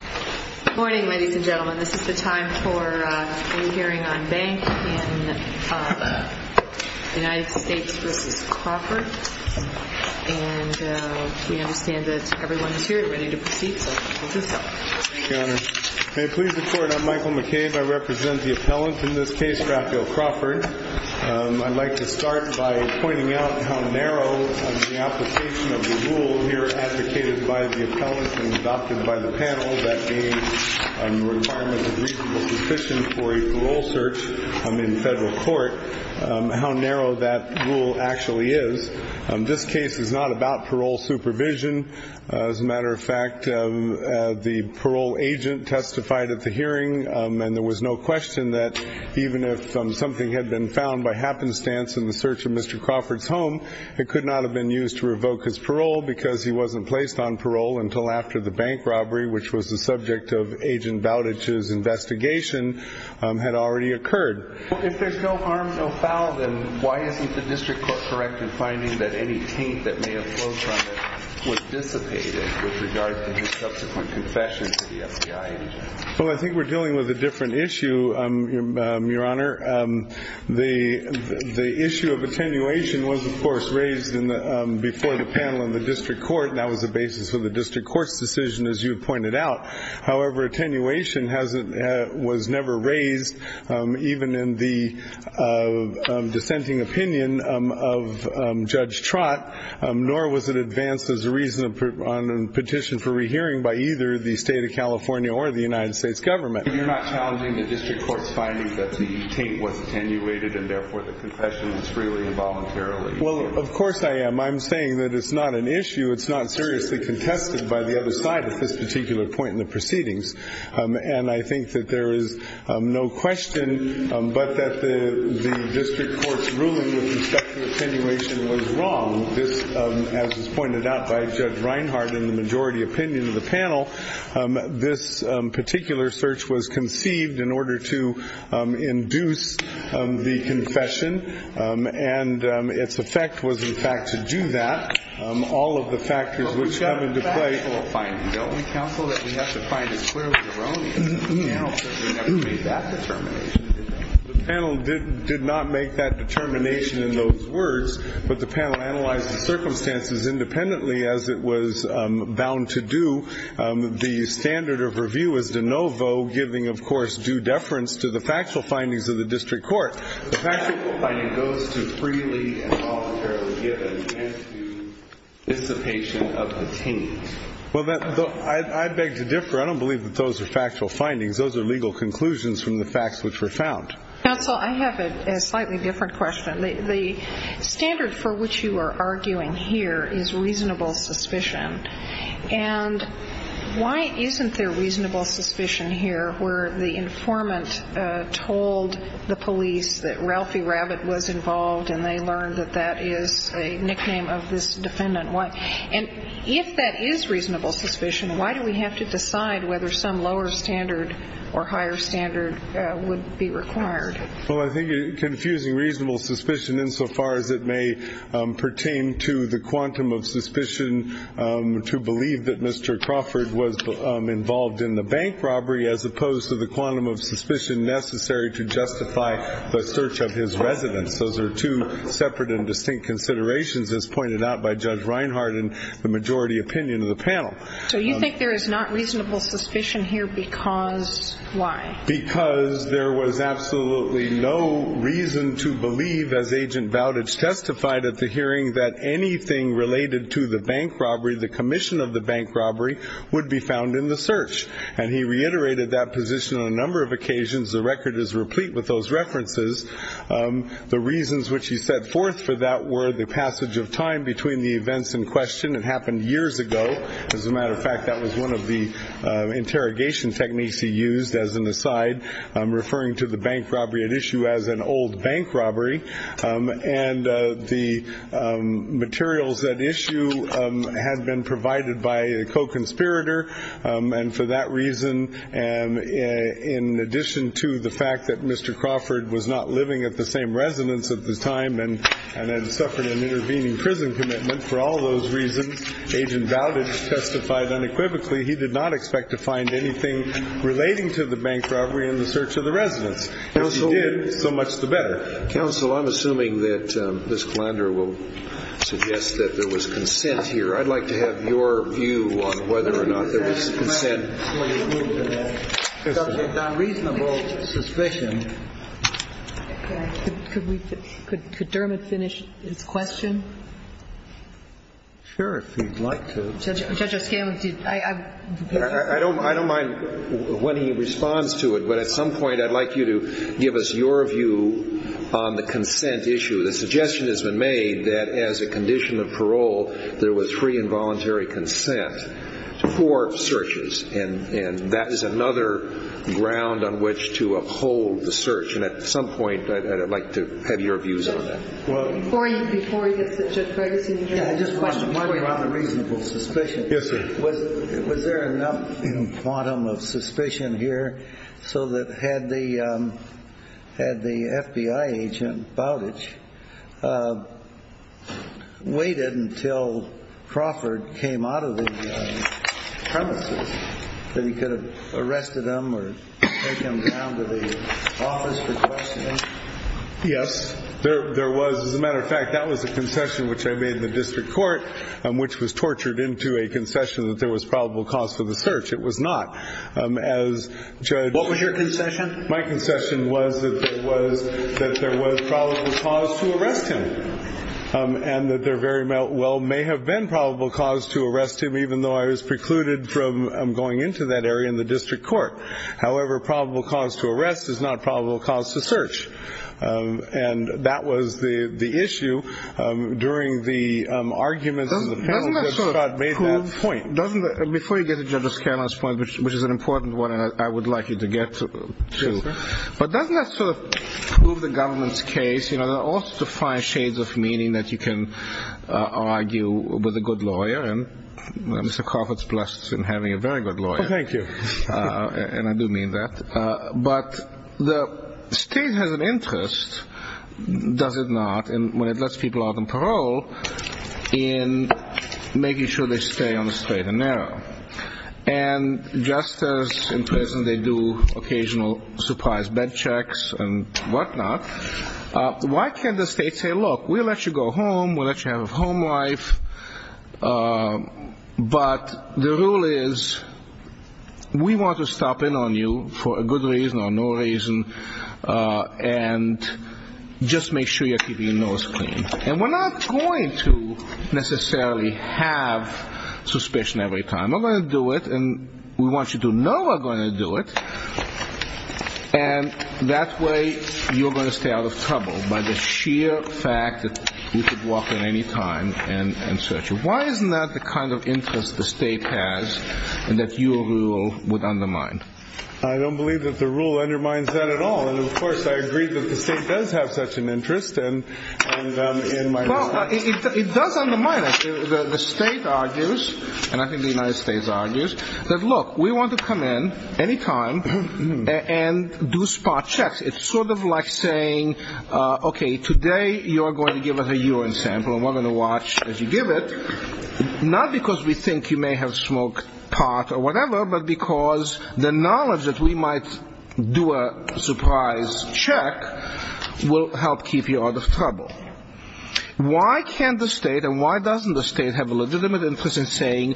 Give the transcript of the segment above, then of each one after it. Good morning ladies and gentlemen, this is the time for a re-hearing on banks and United States v. Crawford and we understand that everyone is here and ready to proceed. I'd like to start by pointing out how narrow the application of the rule here advocated by the appellant and adopted by the panel that the requirement of reasonable decision for a parole search in federal court, how narrow that rule actually is. This case is not about parole supervision. As a matter of fact, the parole agent testified at the hearing and there was no question that even if something had been found by happenstance in the search of Mr. Crawford's home, it could not have been used to revoke his parole because he wasn't placed on parole until after the bank robbery, which was the subject of Agent Bowditch's investigation, had already occurred. If there's no harm, no foul, then why isn't the district court correct in finding that any taint that may have been placed on him was dissipated with regard to his subsequent confession to the FBI agent? I think we're dealing with a different issue, Your Honor. The issue of attenuation was, of course, raised before the panel in the district court and that was the basis of the district court's decision, as you pointed out. However, attenuation was never raised, even in the dissenting opinion of Judge Trott, nor was it advanced as a reason on a petition for rehearing by either the state of California or the United States government. You're not challenging the district court's finding that the taint was attenuated and therefore the confession was freely and voluntarily? Well, of course I am. I'm saying that it's not an issue. It's not seriously contested by the other side at this particular point in the proceedings. And I think that there is no question but that the district court's ruling that the sexual attenuation was wrong. As was pointed out by Judge Reinhart in the majority opinion of the panel, this particular search was conceived in order to induce the confession and its effect was, in fact, to do that. All of the factors which come into play... But we have a factual finding, don't we, counsel, that we have to find it clearly wrong? No. Because we never made that determination, did we? The panel did not make that determination in those words, but the panel analyzed the circumstances independently, as it was bound to do. The standard of review is de novo, giving, of course, due deference to the factual findings of the district court. But the factual finding goes to freely and voluntarily give an answer to the dissipation of the taint. Well, I beg to differ. I don't believe that those are factual findings. Those are legal conclusions from the facts which were found. Counsel, I have a slightly different question. The standard for which you are arguing here is reasonable suspicion. And why isn't there reasonable suspicion here where the informant told the police that Ralphie Rabbit was involved and they learned that that is a nickname of this defendant? And if that is reasonable suspicion, why do we have to decide whether some lower standard or higher standard would be required? Well, I think confusing reasonable suspicion insofar as it may pertain to the quantum of suspicion to believe that Mr. Crawford was involved in the bank robbery, as opposed to the quantum of suspicion necessary to justify the search of his residence. Those are two separate and distinct considerations as pointed out by Judge Reinhardt in the majority opinion of the panel. So you think there is not reasonable suspicion here because why? Because there was absolutely no reason to believe, as Agent Bowditch testified at the hearing, that anything related to the bank robbery, the commission of the bank robbery, would be found in the search. And he reiterated that position on a number of occasions. The record is replete with those references. The reasons which he set forth for that were the passage of time between the events in question. It happened years ago. As a matter of fact, that was one of the interrogation techniques he used. As an aside, I'm referring to the bank robbery at issue as an old bank robbery. And the materials at issue had been provided by a co-conspirator. And for that reason, in addition to the fact that Mr. Crawford was not living at the same residence at the time and had suffered an intervening prison commitment, for all those reasons, Agent Bowditch testified unequivocally he did not expect to find anything relating to the bank robbery in the search of the residence. He did, so much the better. Counsel, I'm assuming that Ms. Kallander will suggest that there was consent here. I'd like to have your view on whether or not there was consent. Could Dermot finish his question? Sure, if he'd like to. I don't mind when he responds to it, but at some point I'd like you to give us your view on the consent issue. The suggestion has been made that as a condition of parole, there was free and voluntary consent for searches. And that is another ground on which to uphold the search. And at some point, I'd like to have your views on that. Before you get to Judge Breger, can you hear me? Just a question. Yes, sir. Was there enough quantum of suspicion here so that had the FBI agent, Bowditch, waited until Crawford came out of the premises, that he could have arrested him or taken him down to the office for questioning? Yes. As a matter of fact, that was a concession which I made in the district court, which was tortured into a concession that there was probable cause for the search. It was not. What was your concession? My concession was that there was probable cause to arrest him. And that there very well may have been probable cause to arrest him, even though I was precluded from going into that area in the district court. However, probable cause to arrest is not probable cause to search. And that was the issue during the argument that Scott made that point. Before you get to Judge Scanlon's point, which is an important one I would like you to get to, but doesn't that sort of prove the government's case? There are also fine shades of meaning that you can argue with a good lawyer, and Mr. Crawford's blessed in having a very good lawyer. Thank you. And I do mean that. But the state has an interest, does it not, and when it lets people out on parole, in making sure they stay on the straight and narrow. And just as in prison they do occasional surprise bed checks and whatnot, why can't the state say, look, we'll let you go home, we'll let you have a home life, but the rule is we want to stop in on you for a good reason or no reason, and just make sure you're keeping your nose clean. And we're not going to necessarily have suspicion every time. We're going to do it, and we want you to know we're going to do it, and that way you're going to stay out of trouble by the sheer fact that you could walk in any time and search him. Why isn't that the kind of interest the state has, and that your rule would undermine? I don't believe that the rule undermines that at all, and of course I agree that the state does have such an interest. Well, it does undermine it. The state argues, and I think the United States argues, that look, we want to come in any time and do spot checks. It's sort of like saying, okay, today you're going to give us a urine sample, and we're going to watch as you give it, not because we think you may have smoked pot or whatever, but because the knowledge that we might do a surprise check will help keep you out of trouble. Why can't the state, and why doesn't the state have a legitimate interest in saying,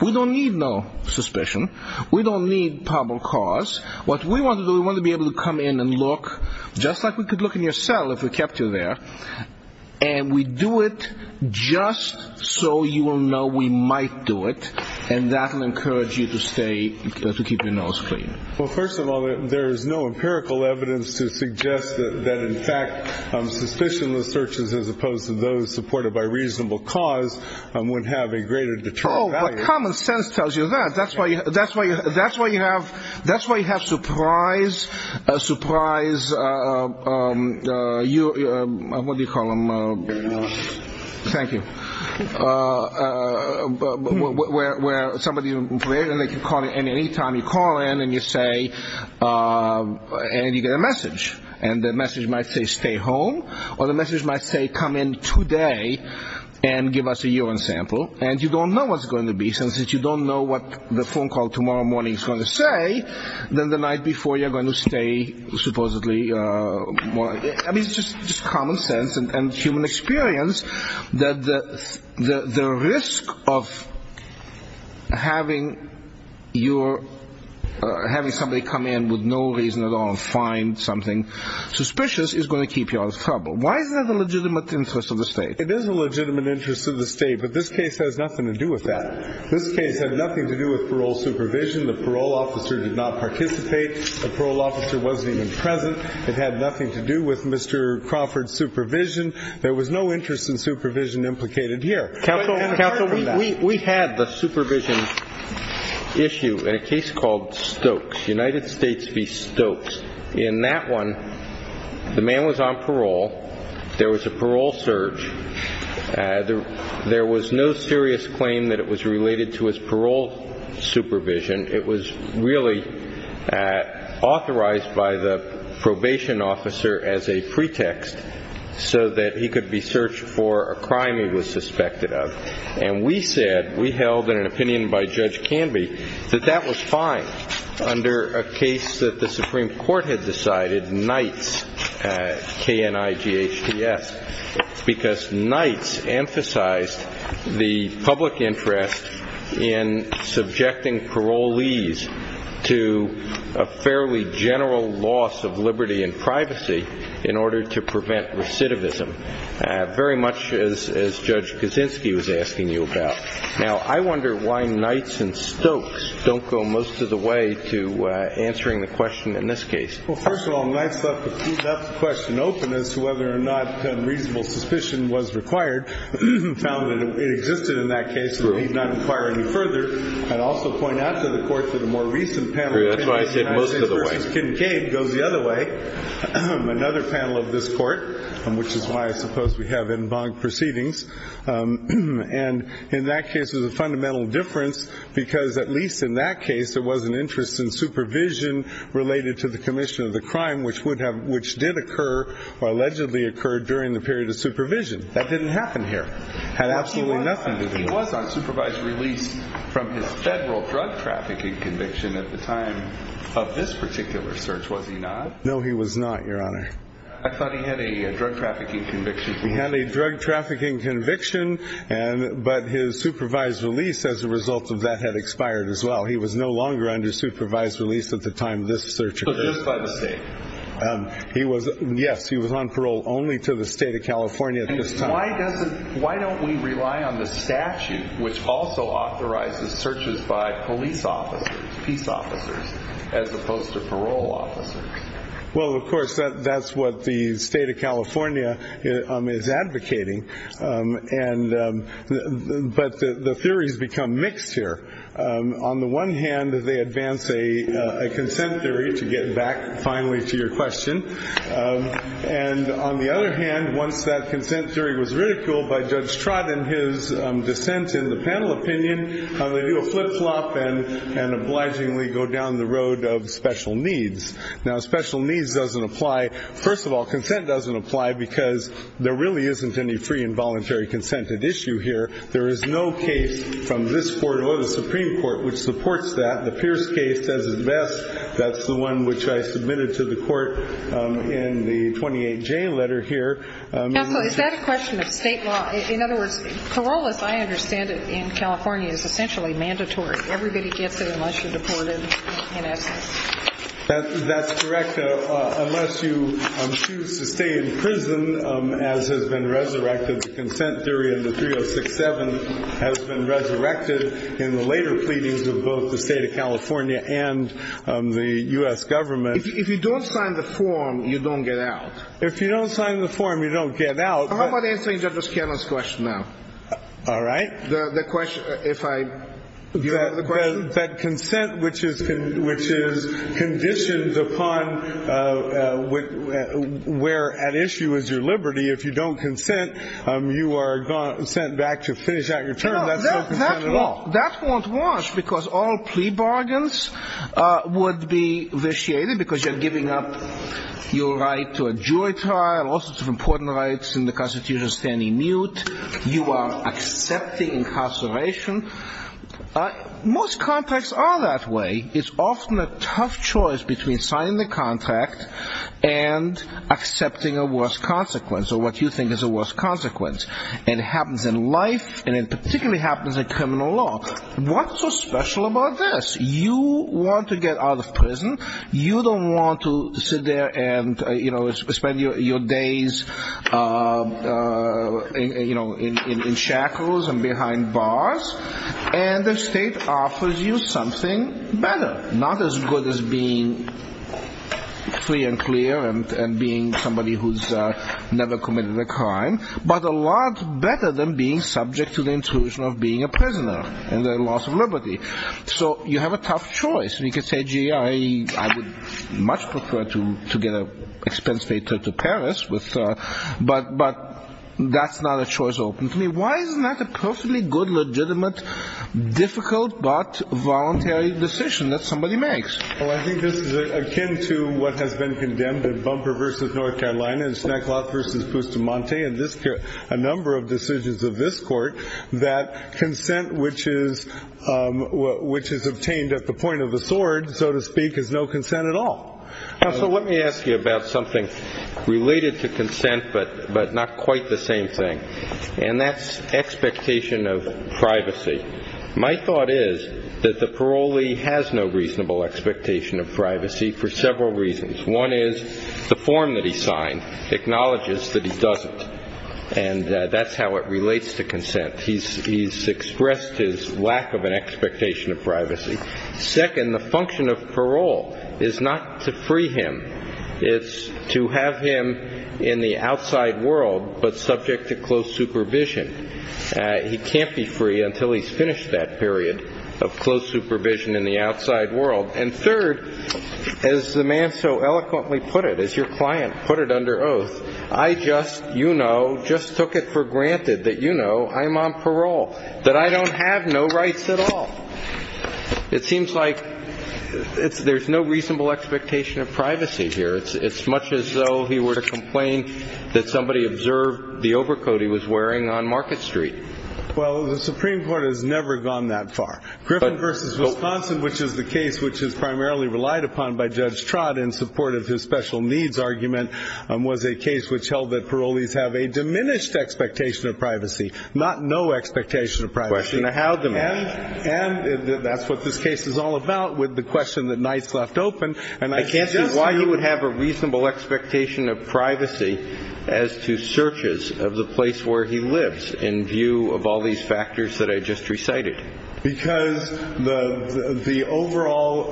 we don't need no suspicion, we don't need probable cause, what we want to do is we want to be able to come in and look, just like we could look in your cell if we kept you there, and we do it just so you will know we might do it, and that will encourage you to stay, to keep your nose clean. Well, first of all, there is no empirical evidence to suggest that in fact, suspicionless searches as opposed to those supported by reasonable cause would have a greater deterrent value. Well, common sense tells you that. That's why you have surprise, surprise, what do you call them? Thank you. Where somebody, and any time you call in and you say, and you get a message, and the message might say, stay home, or the message might say, come in today and give us a urine sample, and you don't know what it's going to be, since you don't know what the phone call tomorrow morning is going to say, then the night before you're going to stay supposedly, I mean it's just common sense and human experience, that the risk of having somebody come in with no reason at all and find something suspicious is going to keep you out of trouble. Why is there a legitimate interest of the state? But this case has nothing to do with that. This case had nothing to do with parole supervision. The parole officer did not participate. The parole officer wasn't even present. It had nothing to do with Mr. Crawford's supervision. There was no interest in supervision implicated here. Counsel, we had the supervision issue in a case called Stokes, United States v. Stokes. In that one, the man was on parole. There was a parole search. There was no serious claim that it was related to his parole supervision. It was really authorized by the probation officer as a pretext so that he could be searched for a crime he was suspected of. And we said, we held an opinion by Judge Canby, that that was fine under a case that the Supreme Court had decided, Nights, K-N-I-G-H-T-S, because Nights emphasized the public interest in subjecting parolees to a fairly general loss of liberty and privacy in order to prevent recidivism, very much as Judge Kaczynski was asking you about. Now, I wonder why Nights and Stokes don't go most of the way to answering the question in this case. Nights left the question open as to whether or not reasonable suspicion was required. He found that it existed in that case. He did not inquire any further. And also point out to the court, to the more recent panel, Nights, K-N-I-G-H-T-S goes the other way. Another panel of this court, which is why I suppose we have en banc proceedings. And in that case, there's a fundamental difference because at least in that case, there was an interest in supervision related to the commission of the crime, which did occur or allegedly occurred during the period of supervision. That didn't happen here. Had absolutely nothing to do with it. He was on supervised release from the federal drug trafficking conviction at the time of this particular search, was he not? No, he was not, Your Honor. I thought he had a drug trafficking conviction. He had a drug trafficking conviction, but his supervised release as a result of that had expired as well. He was no longer under supervised release at the time of this search. So just by mistake? Yes, he was on parole only to the State of California. Why don't we rely on the statute, which also authorizes searches by police officers, police officers, as opposed to parole officers? Well, of course, that's what the State of California is advocating. But the theories become mixed here. On the one hand, they advance a consent theory to get back finally to your question. And on the other hand, once that consent theory was ridiculed by Judge Trott and his dissent in the panel opinion, they do a flip-flop and obligingly go down the road of special needs. Now, special needs doesn't apply. First of all, consent doesn't apply because there really isn't any free and voluntary consented issue here. There is no case from this court or the Supreme Court which supports that. The Pierce case, as is best, that's the one which I submitted to the court in the 28J letter here. Is that a question of state law? In other words, parole, as I understand it in California, is essentially mandatory. Everybody can't go unless you're deported. That's correct. Unless you choose to stay in prison, as has been resurrected, the consent theory in the 306-7 has been resurrected in the later pleadings of both the state of California and the U.S. government. If you don't sign the form, you don't get out. If you don't sign the form, you don't get out. How about answering Justice Kennedy's question now? All right. The question, if I... But consent, which is conditions upon where at issue is your liberty, if you don't consent, you are sent back to finish out your term. No, that won't wash because all plea bargains would be vitiated because you're giving up your right to a jury trial, all sorts of important rights in the Constitution standing mute. You are accepting incarceration. Most contracts are that way. It's often a tough choice between signing the contract and accepting a worse consequence, or what you think is a worse consequence. It happens in life, and it particularly happens in criminal law. What's so special about this? You want to get out of prison. You don't want to sit there and, you know, spend your days in shackles and behind bars. And the state offers you something better, not as good as being free and clear and being somebody who's never committed a crime, but a lot better than being subject to the intrusion of being a prisoner and the loss of liberty. So, you have a tough choice. You could say, gee, I would much prefer to get an expense paid to Paris, but that's not a choice open to me. Why is it not a perfectly good, legitimate, difficult, but voluntary decision that somebody makes? Well, I think this is akin to what has been condemned in Bumper v. North Carolina and Snack Lot v. Pustumante and a number of decisions of this court that consent which is obtained at the point of the sword, so to speak, is no consent at all. So, let me ask you about something related to consent, but not quite the same thing. And that's expectation of privacy. My thought is that the parolee has no reasonable expectation of privacy for several reasons. One is the form that he signed acknowledges that he doesn't, and that's how it relates to consent. He's expressed his lack of an expectation of privacy. Second, the function of parole is not to free him. It's to have him in the outside world, but subject to close supervision. He can't be free until he's finished that period of close supervision in the outside world. And third, as the man so eloquently put it, as your client put it under oath, I just, you know, just took it for granted that, you know, I'm on parole, that I don't have no rights at all. It seems like there's no reasonable expectation of privacy here. It's much as though he were to complain that somebody observed the overcoat he was wearing on Market Street. Well, the Supreme Court has never gone that far. Griffin v. Wisconsin, which is the case which is primarily relied upon by Judge Trott in support of his special needs argument, was a case which held that parolees have a diminished expectation of privacy, not no expectation of privacy. And that's what this case is all about with the question that Knight's left open. And I can't see why he would have a reasonable expectation of privacy as to searches of the place where he lives in view of all these factors that I just recited. Because the overall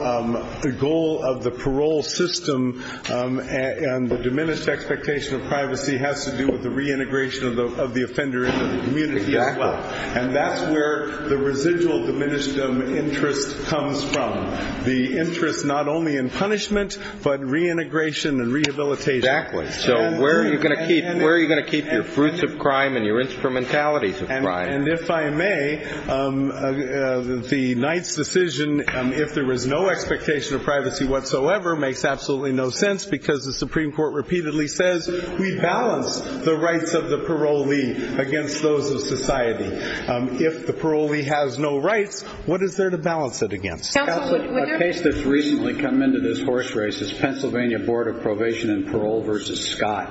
goal of the parole system and the diminished expectation of privacy has to do with the reintegration of the offender into the community. Exactly. And that's where the residual diminished interest comes from. The interest not only in punishment, but reintegration and rehabilitation. Exactly. So where are you going to keep your fruits of crime and your instrumentalities of crime? And if I may, the Knight's decision, if there was no expectation of privacy whatsoever, makes absolutely no sense because the Supreme Court repeatedly says we balance the rights of the parolee against those of society. If the parolee has no rights, what is there to balance it against? Counsel, a case that's recently come into this horse race is Pennsylvania Board of Probation and Parole v. Scott,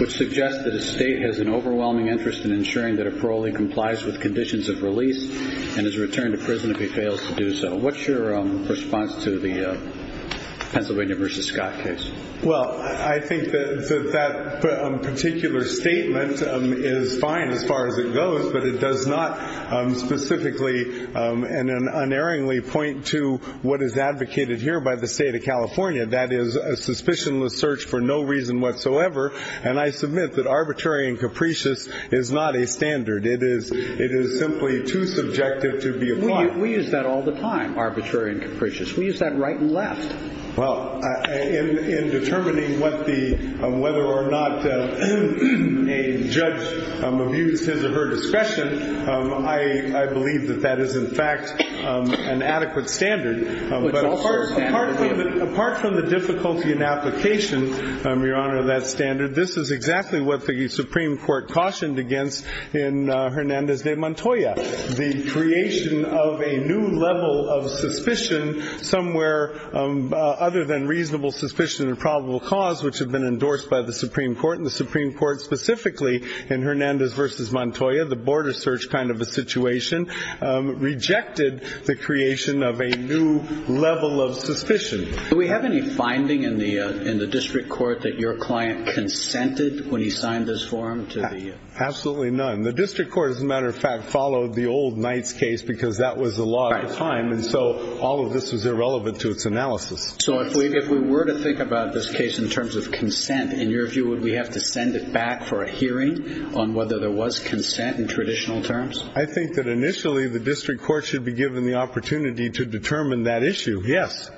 which suggests that a state has an overwhelming interest in ensuring that a parolee complies with conditions of release and is returned to prison if he fails to do so. What's your response to the Pennsylvania v. Scott case? Well, I think that that particular statement is fine as far as it goes, but it does not specifically and unerringly point to what is advocated here by the state of California. That is a suspicionless search for no reason whatsoever, and I submit that arbitrary and capricious is not a standard. It is simply too subjective to be applied. We use that all the time, arbitrary and capricious. We use that right and left. Well, in determining whether or not a judge views his or her discretion, I believe that that is in fact an adequate standard Apart from the difficulty in application, Your Honor, that standard, this is exactly what the Supreme Court cautioned against in Hernandez v. Montoya. The creation of a new level of suspicion somewhere other than reasonable suspicion and probable cause, which had been endorsed by the Supreme Court, and the Supreme Court specifically in Hernandez v. Montoya, the border search kind of a situation, rejected the creation of a new level of suspicion. Do we have any finding in the district court that your client consented when he signed this form? Absolutely none. The district court, as a matter of fact, followed the old Knight's case because that was the law at the time, and so all of this is irrelevant to its analysis. So if we were to think about this case in terms of consent, in your view, would we have to send it back for a hearing on whether there was consent in traditional terms? I think that initially the district court should be given the opportunity to determine that issue, yes.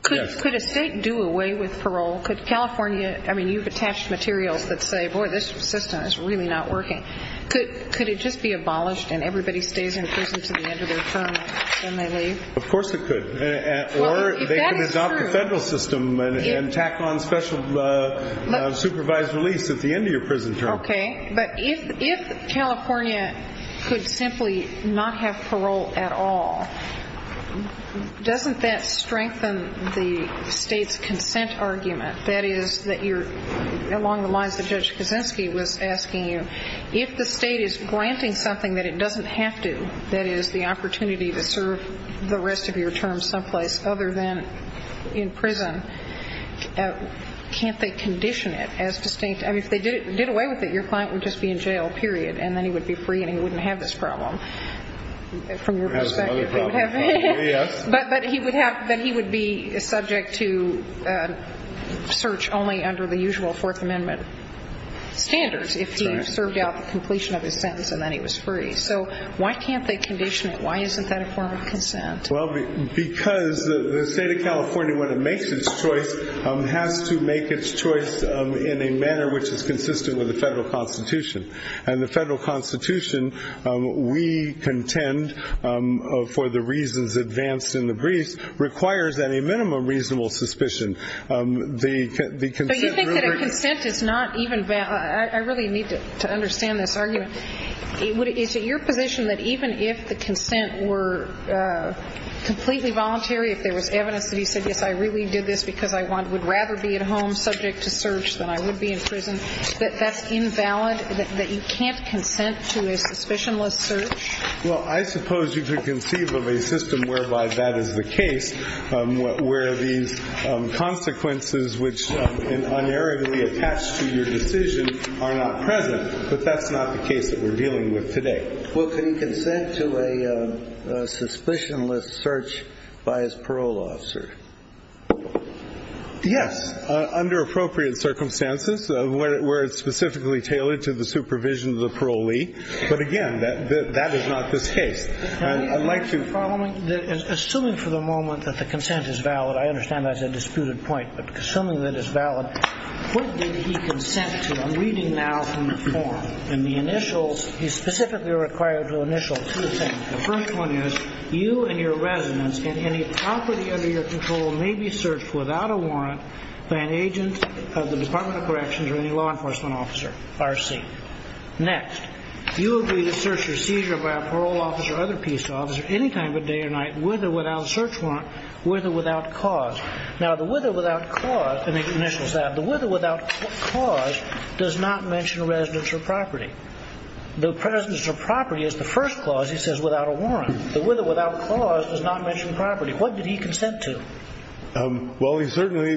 Could a state do away with parole? Could California, I mean, you've attached materials that say, boy, this system is really not working. Could it just be abolished and everybody stays in prison until the end of their term and then they leave? Of course it could. Or they could adopt a federal system and tack on special supervised release at the end of your prison term. Okay, but if California could simply not have parole at all, doesn't that strengthen the state's consent argument? That is, along the lines of what Judge Kosinski was asking you, if the state is granting something that it doesn't have to, that is, the opportunity to serve the rest of your term someplace other than in prison, can't they condition it as distinct? I mean, if they did away with it, your client would just be in jail, period. And then he would be free and he wouldn't have this problem. That's another problem. But he would be subject to search only under the usual Fourth Amendment standards if he served out the completion of his sentence and then he was free. So why can't they condition it? Why isn't that a form of consent? Well, because the state of California, when it makes its choice, has to make its choice in a manner which is consistent with the federal constitution. And the federal constitution, we contend, for the reasons advanced in the brief, requires that a minimum reasonable suspicion. But you think that a consent is not even valid. I really need to understand this argument. Is it your position that even if the consent were completely voluntary, if there was evidence that you said, if I really did this because I would rather be at home subject to search than I would be in prison, that that's invalid, that you can't consent to a suspicionless search? Well, I suppose you could conceive of a system whereby that is the case, where the consequences which unerringly attach to your decision are not present. But that's not the case that we're dealing with today. Was any consent to a suspicionless search by his parole officer? Yes, under appropriate circumstances, where it's specifically tailored to the supervision of the parolee. But again, that is not the case. I'd like to follow up. Assuming for the moment that the consent is valid, I understand that's a disputed point, but assuming that it's valid, what did he consent to? I'm reading now from the form. And the initials, he's specifically required to initial two things. The first one is, you and your residence in any property under your control may be searched without a warrant by an agent of the Department of Corrections or any law enforcement officer, RC. Next, you agree to search or seizure by a parole officer, other police officers, any time of day or night, with or without a search warrant, with or without cause. Now, the with or without cause, in the initials there, the with or without cause does not mention a residence or property. The presence of property is the first clause. He says without a warrant. The with or without cause does not mention property. What did he consent to? Well, he certainly,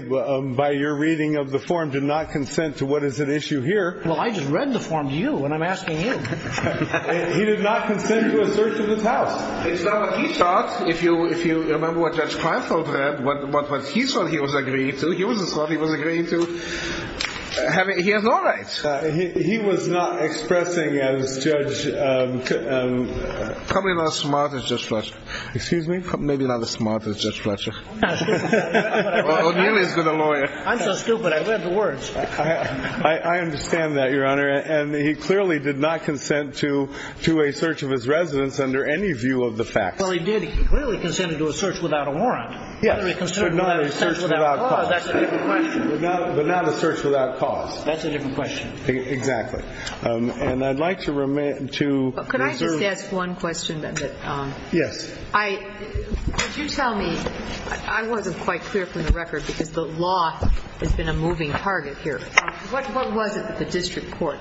by your reading of the form, did not consent to what is at issue here. Well, I just read the form to you when I'm asking you. He did not consent to a search of the house. It's not what he thought. If you remember what that's trying to prove, what he thought he was agreeing to, he wasn't sure he was agreeing to, he has no rights. He was not expressing as Judge, probably not as smart as Judge Fletcher. Excuse me, maybe not as smart as Judge Fletcher. Well, nearly as good a lawyer. I'm so stupid, I read the words. I understand that, Your Honor. And he clearly did not consent to a search of his residence under any view of the facts. Well, he did. He clearly consented to a search without a warrant. But not a search without cause. That's a different question. But not a search without cause. That's a different question. Exactly. And I'd like to resume. Could I just ask one question? Yes. Could you tell me, I wasn't quite clear from the record, because the law has been a moving target here. What was it that the district court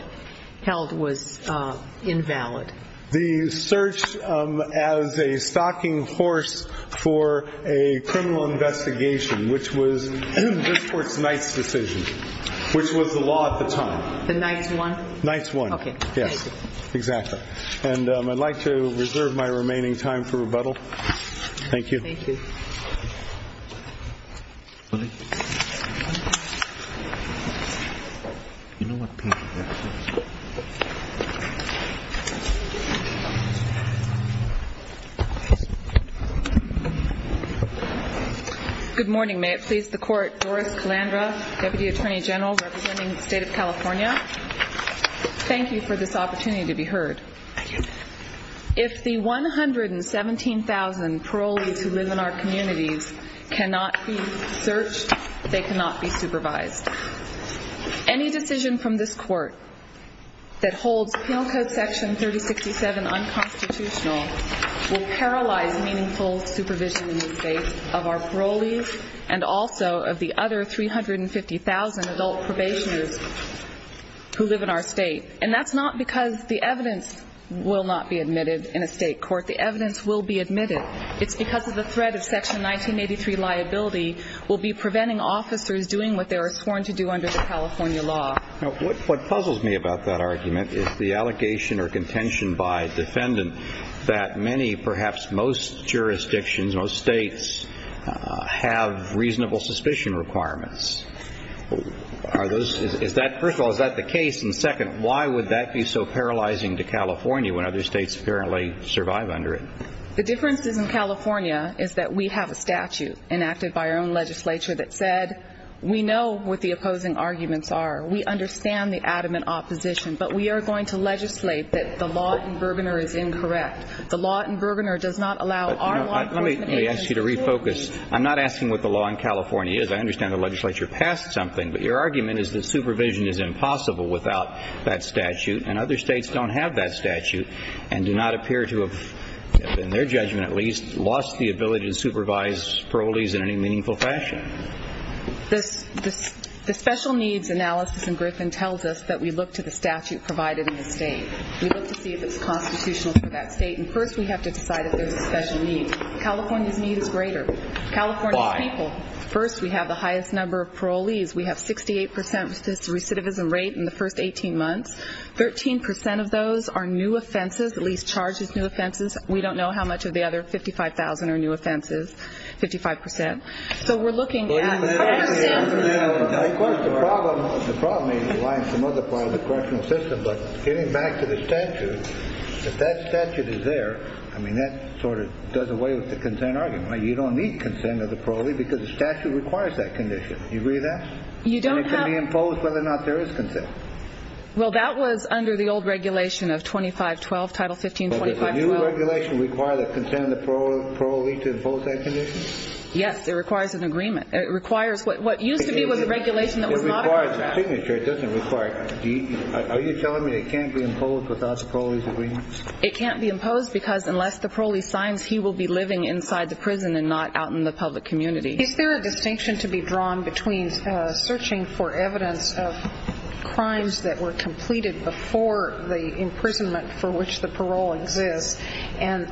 held was invalid? The search as a stocking horse for a criminal investigation, which was the district court's ninth decision, which was the law at the time. The ninth one? Ninth one, yes. Exactly. And I'd like to reserve my remaining time for rebuttal. Thank you. Thank you. Thank you. Good morning. May it please the Court, Doris Calandra, Deputy Attorney General representing the State of California. Thank you for this opportunity to be heard. If the 117,000 parolees who live in our communities cannot be searched, they cannot be supervised. Any decision from this Court that holds Penal Code Section 3067 unconstitutional will paralyze meaningful supervision in the state of our parolees and also of the other 350,000 adult probationers who live in our state. And that's not because the evidence will not be admitted in a state court. The evidence will be admitted. It's because of the threat of Section 1983 liability will be preventing officers doing what they were sworn to do under the California law. What puzzles me about that argument is the allegation or contention by defendants that many, perhaps most jurisdictions, most states, have reasonable suspicion requirements. First of all, is that the case? And second, why would that be so paralyzing to California when other states apparently survive under it? The difference in California is that we have a statute enacted by our own legislature that said we know what the opposing arguments are. We understand the adamant opposition. But we are going to legislate that the law in Gurbaner is incorrect. The law in Gurbaner does not allow our law... Let me ask you to refocus. I'm not asking what the law in California is. I understand the legislature passed something. But your argument is that supervision is impossible without that statute and other states don't have that statute and do not appear to have, in their judgment at least, lost the ability to supervise parolees in any meaningful fashion. The special needs analysis in Brisbane tells us that we look to the statute provided in the state. We look to see if it's constitutional for that state. And first we have to decide if there's a special need. California's need is greater. California's people. First, we have the highest number of parolees. We have 68% assist recidivism rate in the first 18 months. 13% of those are new offenses, at least charged with new offenses. We don't know how much of the other 55,000 are new offenses. 55%. So we're looking at... Of course, the problem is relying on some other part of the correctional system. But getting back to the statute, if that statute is there, I mean, that sort of does away with the consent argument. You don't need consent of the parolee because the statute requires that condition. Do you agree with that? You don't have... That was under the old regulation of 2512, Title 1525. Does the new regulation require the consent of the parolee to impose that condition? Yes, it requires an agreement. It requires what used to be the regulation that was modified. It requires a signature. It doesn't require... Are you telling me it can't be imposed because of parolee's agreement? It can't be imposed because unless the parolee signs, he will be living inside the prison and not out in the public community. Is there a distinction to be drawn between searching for evidence of crimes that were completed before the imprisonment for which the parolee lives and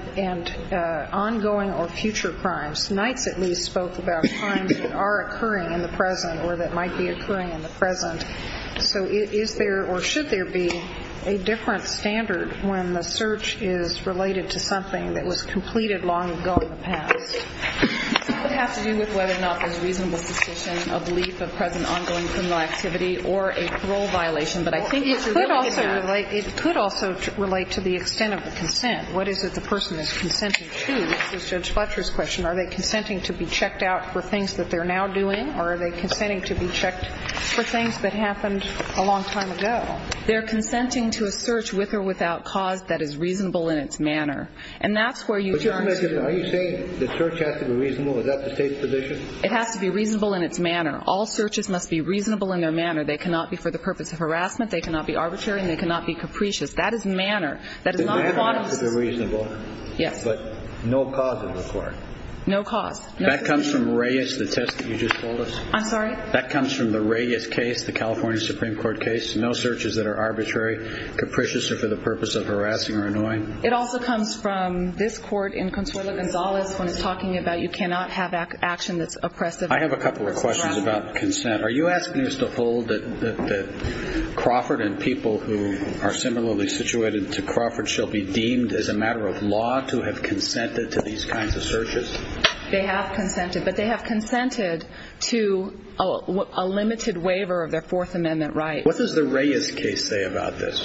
ongoing or future crimes? Tonight we spoke about crimes that are occurring in the present or that might be occurring in the present. So is there or should there be a different standard when the search is related to something that was completed long ago in the past? I would have to do this whether or not there is reasonable suspicion of lease of present ongoing criminal activity or a parole violation. It could also relate to the extent of the consent. What is it the person is consenting to? To Judge Fletcher's question, are they consenting to be checked out for things that they're now doing or are they consenting to be checked for things that happened a long time ago? They're consenting to a search with or without cause that is reasonable in its manner. And that's where you turn... Are you saying the search has to be reasonable? Is that the state's position? It has to be reasonable in its manner. They cannot be for the purpose of harassment. They cannot be arbitrary and they cannot be capricious. That is manner. It has to be reasonable but no cause of the court. No cause. That comes from Reyes, the test that you just told us. I'm sorry? That comes from the Reyes case, the California Supreme Court case. No searches that are arbitrary, capricious or for the purpose of harassing or annoying. It also comes from this court in Consuelo Gonzalez when talking about you cannot have action that's oppressive. I have a couple of questions about consent. Are you asking us to hold that Crawford and people who are similarly situated to Crawford shall be deemed as a matter of law to have consented to these kinds of searches? They have consented. But they have consented to a limited waiver of their Fourth Amendment rights. What does the Reyes case say about this?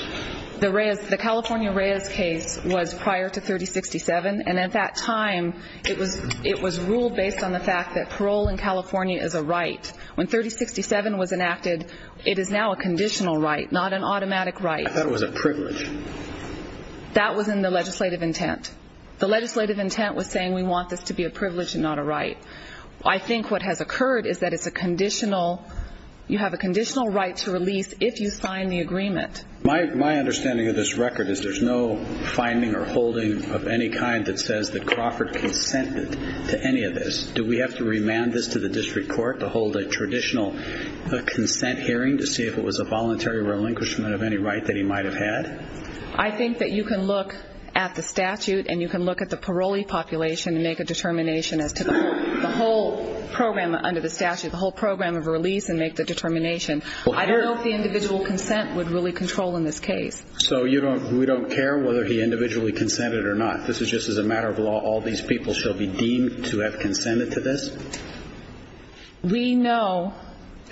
The California Reyes case was prior to 3067 and at that time it was ruled based on the fact that parole in California is a right. When 3067 was enacted, it is now a conditional right, not an automatic right. That was a privilege. That was in the legislative intent. The legislative intent was saying we want this to be a privilege and not a right. I think what has occurred is that it's a conditional, you have a conditional right to release if you sign the agreement. My understanding of this record is there's no finding or holding of any kind that says that Crawford consented to any of this. Do we have to remand this to the district court in a traditional consent hearing to see if it was a voluntary relinquishment of any right that he might have had? I think that you can look at the statute and you can look at the parolee population and make a determination. The whole program under the statute, the whole program of release and make the determination. I don't know if the individual consent would really control in this case. So we don't care whether he individually consented or not. This is just as a matter of law. All these people shall be deemed to have consented to this? We know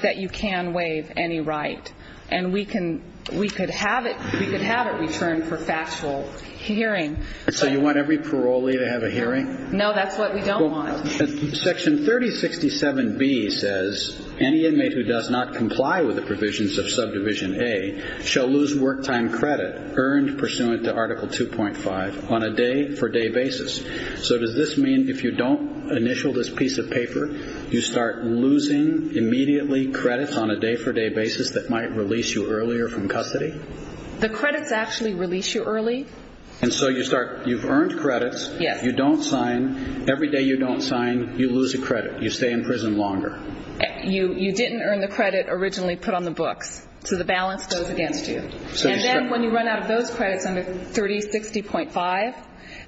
that you can waive any right. And we could have it returned for factual hearing. So you want every parolee to have a hearing? No, that's what we don't want. Section 3067B says, any inmate who does not comply with the provisions of Subdivision A shall lose work time credit earned pursuant to Article 2.5 on a day per day basis. So does this mean when you initial this piece of paper you start losing immediately credits on a day per day basis that might release you earlier from custody? The credits actually release you early. And so you've earned credits. You don't sign. Every day you don't sign, you lose a credit. You stay in prison longer. You didn't earn the credit originally put on the books. So the balance goes against you. And then when you run out of those credits under 3060.5,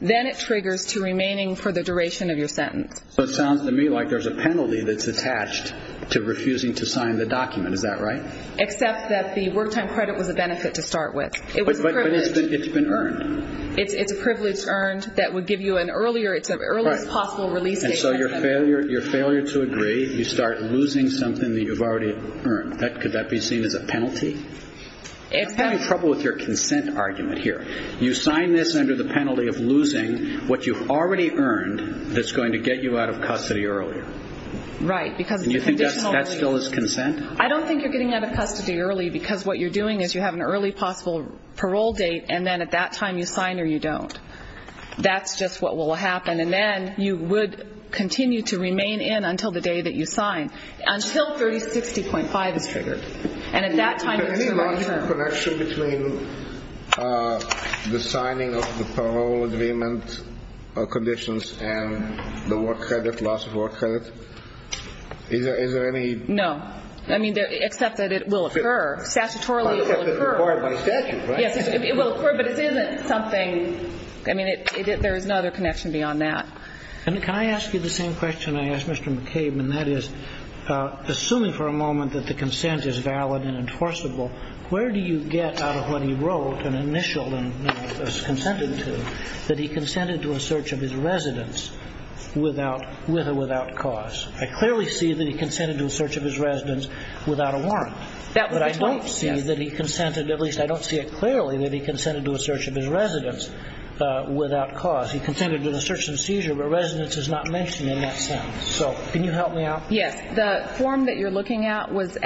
then it triggers to remaining for the duration of your sentence. So it sounds to me like there's a penalty that's attached to refusing to sign the document. Is that right? Except that the work time credit was a benefit to start with. But it's been earned. It's a privilege earned that would give you an earlier, it's the earliest possible release date. And so your failure to agree, you start losing something that you've already earned. Could that be seen as a penalty? The penalty of losing what you've already earned that's going to get you out of custody earlier. Right. Do you think that still is consent? I don't think you're getting out of custody early because what you're doing is you have an early possible parole date and then at that time you sign or you don't. That's just what will happen. And then you would continue to remain in until the day that you sign. Until 3060.5 is triggered. And at that time... Could we have a connection between the signing of the parole agreement conditions and the work credit, loss of work credit? Is there any... No. I mean except that it will occur. Statutorily it will occur. But it isn't something... I mean there is no other connection beyond that. Can I ask you the same question I asked Mr. McCabe and that is, assuming for a moment that the consent is valid and enforceable, where do you get out of when he wrote an initial and consented to that he consented to a search of his residence with or without cause? I clearly see that he consented to a search of his residence without a warrant. But I don't see that he consented, at least I don't see it clearly that he consented to a search of his residence without cause. He consented to a search and seizure where residence is not mentioned in that sentence. So can you help me out? Yes. The form that you're looking at is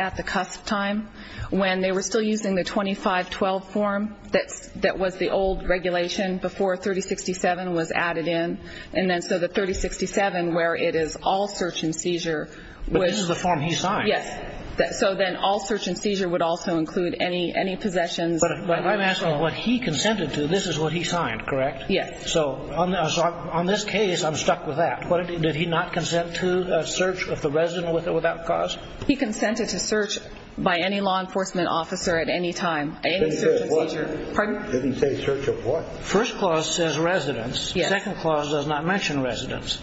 still using the 2512 form that was the old regulation before 3067 was added in. And then so the 3067 where it is all search and seizure... But this is the form he signed. Yes. So then all search and seizure would also include any possessions... But let me ask you, what he consented to, this is what he signed, correct? Yes. So on this case I'm stuck with that. Did he not consent to a search of the residence without cause? He consented to search by any law enforcement officer at any time, any search and seizure. Did he say search of what? First clause says residence. Second clause does not mention residence.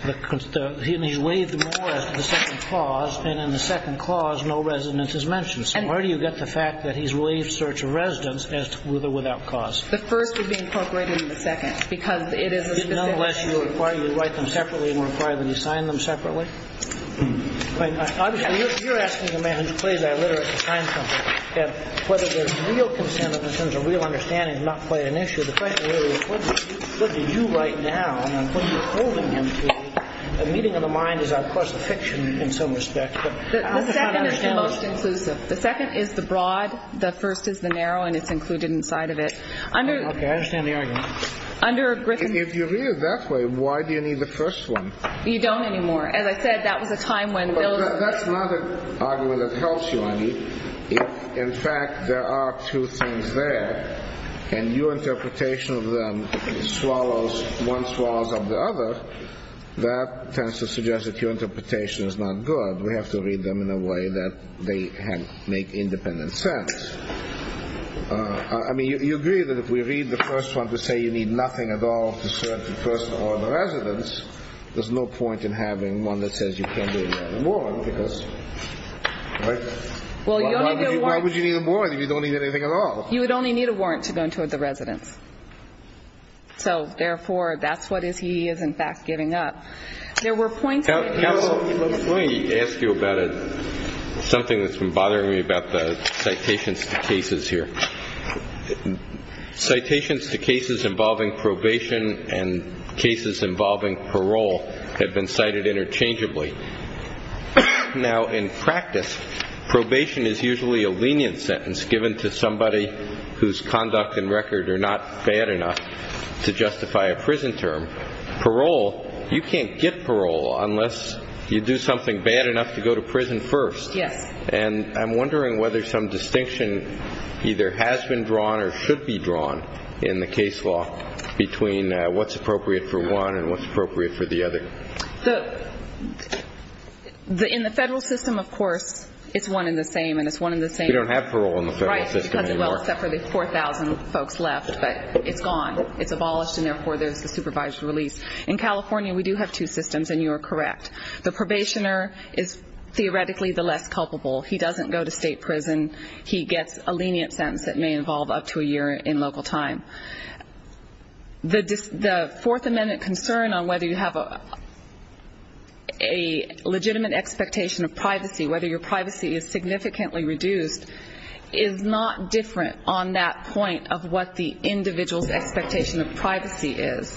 He waived more as to the second clause and in the second clause no residence is mentioned. So where do you get the fact that he's waived search of residence as to with or without cause? The first would be incorporated in the second because it is a specific... You're asking a man who plays our litter at the time whether there's real consent in the sense of real understanding and not quite an issue. The question really is what do you right now and what are you holding him to? A meeting of the mind is of course a fiction in some respect. The second is the broad, the first is the narrow and it's included inside of it. Okay, I understand the argument. If you read it that way the argument that helps you if in fact there are two things there and your interpretation of them swallows, one swallows up the other that tends to suggest that your interpretation is not good. We have to read them in a way that they make independent sense. I mean you agree that if we read the first one to say you need nothing at all to search the person or the residence there's no point in having one that says you can't get a warrant because why would you need a warrant if you don't need anything at all? You would only need a warrant to go into the residence. So therefore that's what he is in fact giving up. Let me ask you about something that's been bothering me about the citations to cases here. Citations to cases involving probation and cases involving parole have been cited interchangeably. Now in practice probation is usually a lenient sentence given to somebody whose conduct and record are not bad enough to justify a prison term. Parole, you can't get parole unless you do something bad enough to go to prison first. And I'm wondering whether some distinction either has been drawn or should be drawn in the case law between what's appropriate for one and what's appropriate for the other. So in the federal system of course it's one and the same. You don't have parole in the federal system anymore. Right, except for the 4,000 folks left but it's gone, it's abolished and therefore there's a supervised release. In California we do have two systems and you are correct. The probationer is theoretically the less culpable. He doesn't go to state prison. He gets a lenient sentence that may involve up to a year in local time. The Fourth Amendment concern on whether you have a legitimate expectation of privacy, whether your privacy is significantly reduced is not different on that point of what the individual's expectation of privacy is.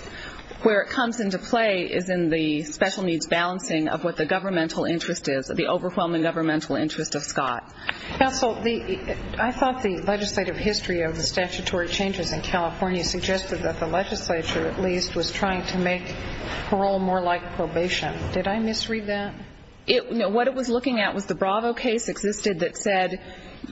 Where it comes into play is in the special needs balancing of what the governmental interest is, the overwhelming governmental interest of Scott. I thought the legislative history of the statutory changes in California suggested that the legislature at least was trying to make parole more like probation. Did I misread that? What it was looking at was the Bravo case existed that said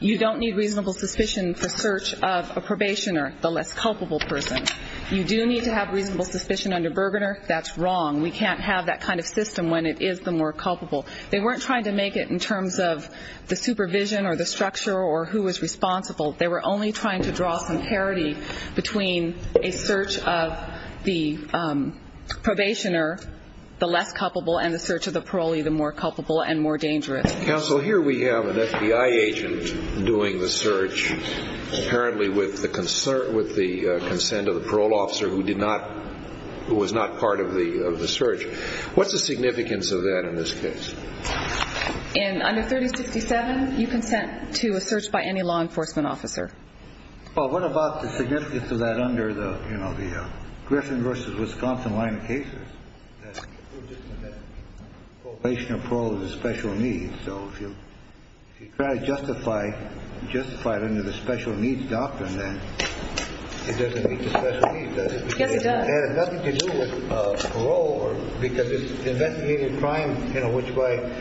you don't need reasonable suspicion for search of a probationer, the less culpable person. You do need to have reasonable suspicion under Bourbon Earth, that's wrong. We can't have that kind of system when it is the more culpable. They weren't trying to make it in terms of the supervision or the structure or who is responsible. They were only trying to draw some parity between a search of the probationer, the less culpable, and the search of the parolee, the more culpable and more dangerous. Counsel, here we have an FBI agent doing the search apparently with the consent of the parole officer who was not part of the search. What's the significance of that in this case? In under 3057, you consent to a search by any law enforcement officer. Well, what about the significance of that under the Griffin versus Wisconsin line of cases? We're just looking at probation and parole as special needs. So if you try to justify it under the special needs doctrine, then it doesn't meet the special needs. It has nothing to do with parole because it's an indefinite crime in which the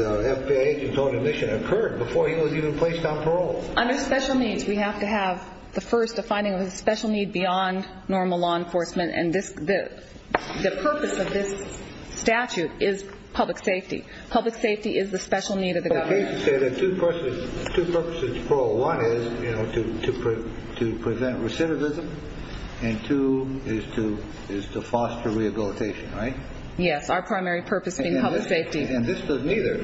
FBI agent on a mission occurred before he was even placed on parole. Under special needs, we have to have the first, the finding of a special need beyond normal law enforcement. The purpose of this statute is public safety. Public safety is the special need of the government. Two purposes for one is to present recidivism and two is to foster rehabilitation, right? Yes, our primary purpose in public safety. And this does neither.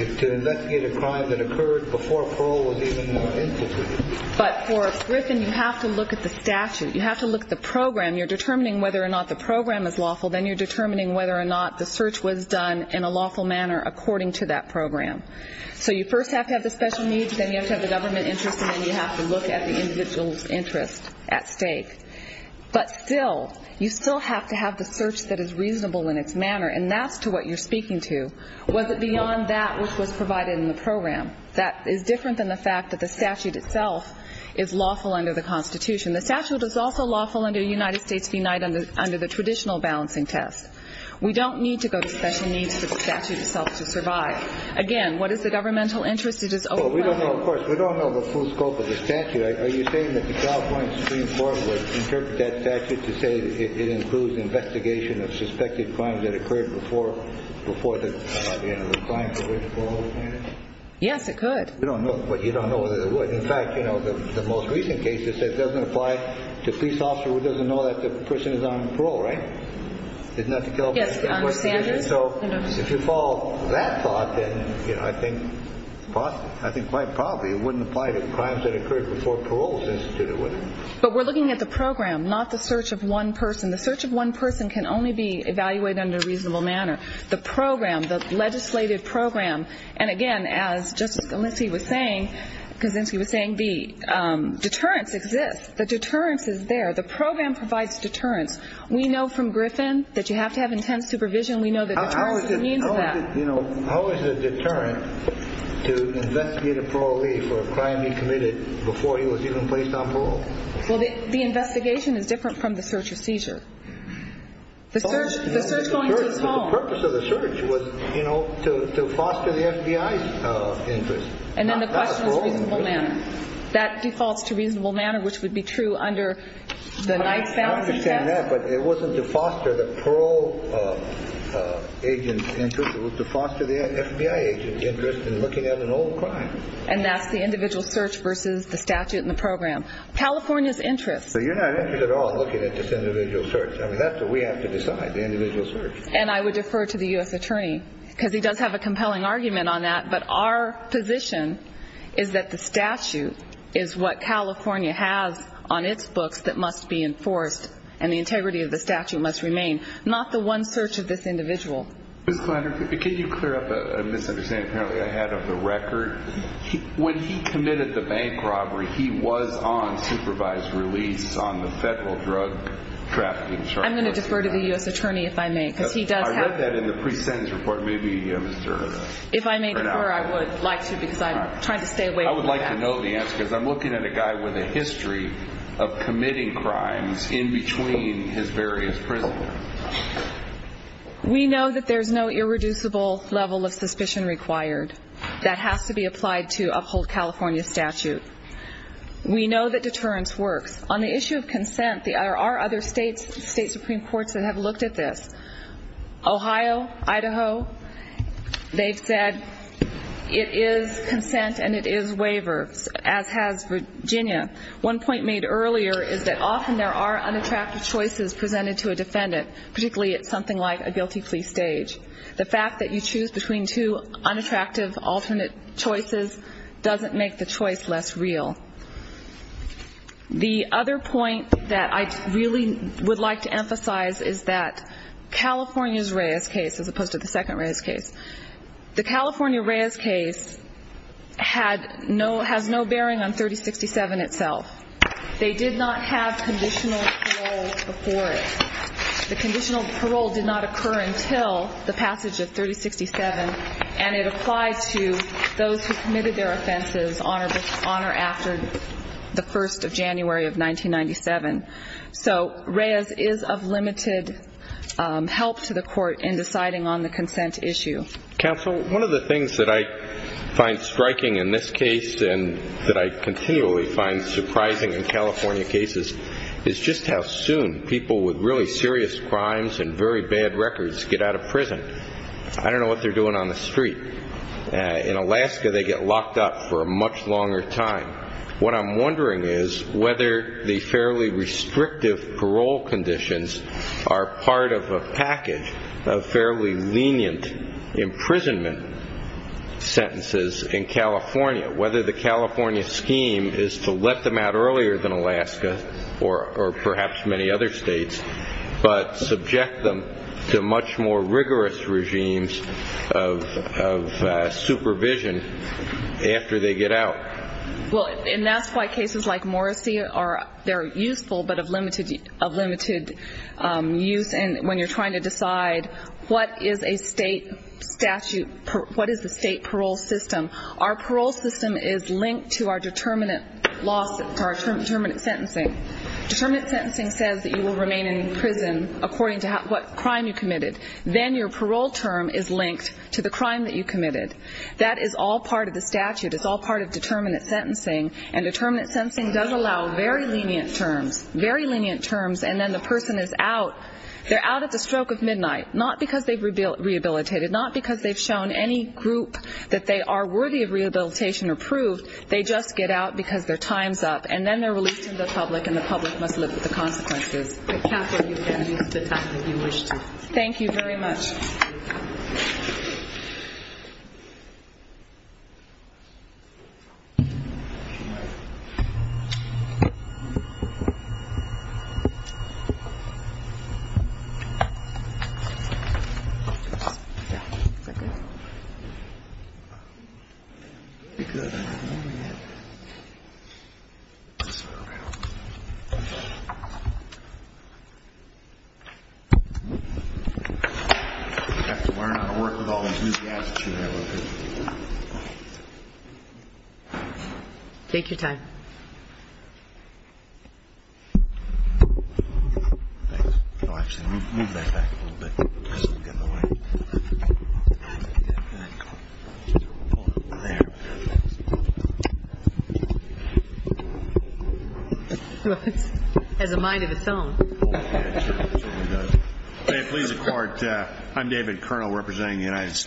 It's to investigate a crime that occurred before parole was even instituted. But for Griffin, you have to look at the statute. You have to look at the program. You're determining whether or not the program is lawful, then you're determining whether or not the search was done in a lawful manner according to that program. So you first have to have what you're speaking to. Was it beyond that which was provided in the program? That is different than the fact that the statute itself is lawful under the Constitution. The statute is also lawful under the United States Benightened under the traditional balancing test. We don't need to go to special needs for the statute itself to survive. Again, what is the governmental interest? We don't know the full scope of the statute. Are you saying that the job went stream forward before there might have been a requirement for parole? Yes, it could. You don't know. In fact, the most recent case doesn't apply to a police officer who doesn't know that the person is on parole, right? So if you follow that thought, I think quite probably it wouldn't apply to the crimes that occurred before parole was instituted, would it? But we're looking at the program, not the search of one person. We're looking at the program, the legislative program. And again, as just as Elissie was saying, deterrence exists. The deterrence is there. The program provides deterrence. We know from Griffin that you have to have intense supervision. How is it a deterrent to investigate a parolee for a crime he committed before he was even placed on parole? Well, the investigation is different from the search or seizure. The purpose of the search was to foster the FBI's interest. And then the question was reasonable manner. That defaults to reasonable manner, which would be true under the 9000 statute. I understand that, but it wasn't to foster the parole agent's interest. It was to foster the FBI agent's interest in looking at an old crime. And that's the individual search versus the statute and the program. California's interest. But you're not interested at all in looking at this individual search. I mean, that's what we have to decide, the individual search. And I would defer to the U.S. attorney because he does have a compelling argument on that, but our position is that the statute is what California has on its books that must be enforced and the integrity of the statute must remain, not the one search of this individual. Could you clear up a misunderstanding I had of the record? When he committed the bank robbery, he was on supervised release on the federal drug trafficking charges. I'm going to defer to the U.S. attorney if I may. I read that in the pre-sentence report. I'm going to give you the answer. If I may defer, I would like to because I'm trying to stay away from that. I would like to know the answer because I'm looking at a guy with a history of committing crimes in between his various prisons. We know that there's no irreducible level of suspicion required. That has to be applied to a whole California statute. We know that deterrence works. On the issue of consent, there are other state Supreme Courts that have looked at this. Ohio, Idaho, they've said it is consent and it is waiver, as has Virginia. One point made earlier is that often there are unattractive choices presented to a defendant, particularly at something like a guilty plea stage. The fact that you choose between two unattractive, ultimate choices doesn't make the choice less real. The other point that I really would like to emphasize is that California's Reyes case, as opposed to the second Reyes case, the California Reyes case has no bearing on 3067 itself. They did not have conditional parole before it. The conditional parole did not occur until the passage of 3067 and it applied to those who committed their offenses on or after the 1st of January of 1997. So Reyes is of limited help to the court in deciding on the consent issue. Counsel, one of the things that I find striking in this case and that I continually find surprising in California cases is just how soon people with really serious crimes and very bad records get out of prison. I don't know what they're doing on the street. In Alaska, they get locked up for a much longer time. What I'm wondering is whether the fairly restrictive parole conditions are part of a package of fairly lenient imprisonment sentences in California. Whether the California scheme is to let them out earlier than Alaska or perhaps many other states but subject them to much more rigorous regimes of supervision after they get out. That's why cases like Morrissey are useful but of limited use when you're trying to decide what is a state statute, what is a state parole system. Our parole system is linked to our determinate sentencing. Determinate sentencing says that you will remain in prison according to what crime you committed. Then your parole term is linked to the crime you committed. That is all part of the statute. Determinate sentencing does allow very lenient then the person is out. They are out at the stroke of midnight not because they have shown any group that they are worthy of rehabilitation or probation or proof. They just get out because their time is up. Thank you very much. Thank you very much. Thank you very much. Thank you very much. Thank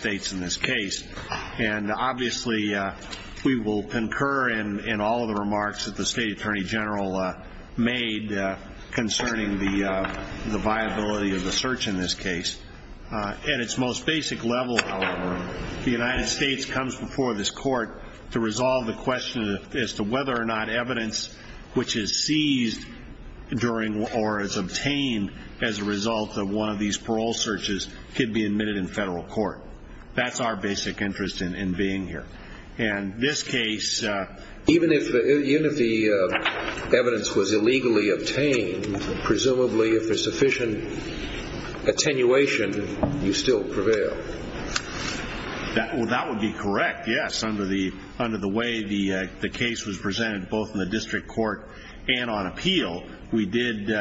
you. We will concur in all remarks made concerning the viability of the search in this case. At its most basic level, however, the United States comes before the court to resolve the question whether or not evidence which is seized during or is obtained as a result of one of these parole searches could be admitted in federal court. That's our basic interest in being here. And this case, even if the evidence was illegally obtained, presumably if there's sufficient attenuation, you still prevail. That would be correct, yes, under the way the case was presented both in the district court and on appeal, we did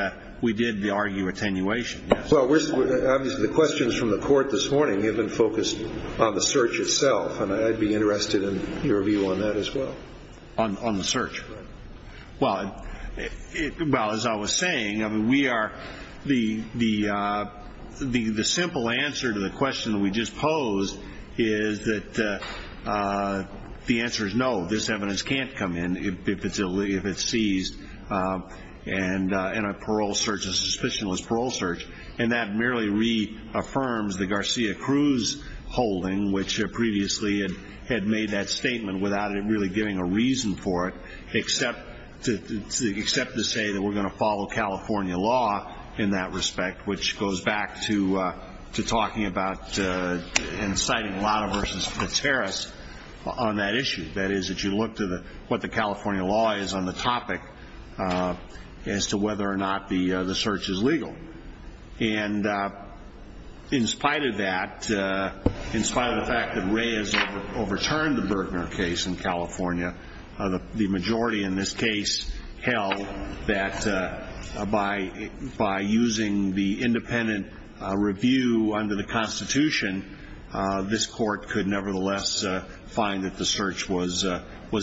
argue attenuation. The questions from the court this morning have been focused on the search itself. I'd be interested in your view on that as well. On the search. As I was saying, we are the simple answer to the question we just posed is that the answer is no, this evidence can't come in if it's seized in a parole search, a suspicionless search. And that merely reaffirms the Garcia Cruz holding which previously made that statement without really giving a reason for it except to say we're going to follow California law in that respect which goes back to talking about inciting on that issue. That is, if you look at what the California law is on the topic as to whether or not the search is legal. And in this particular case in California, the majority in this case held that by using the independent review under the constitution, this court could nevertheless find that the search was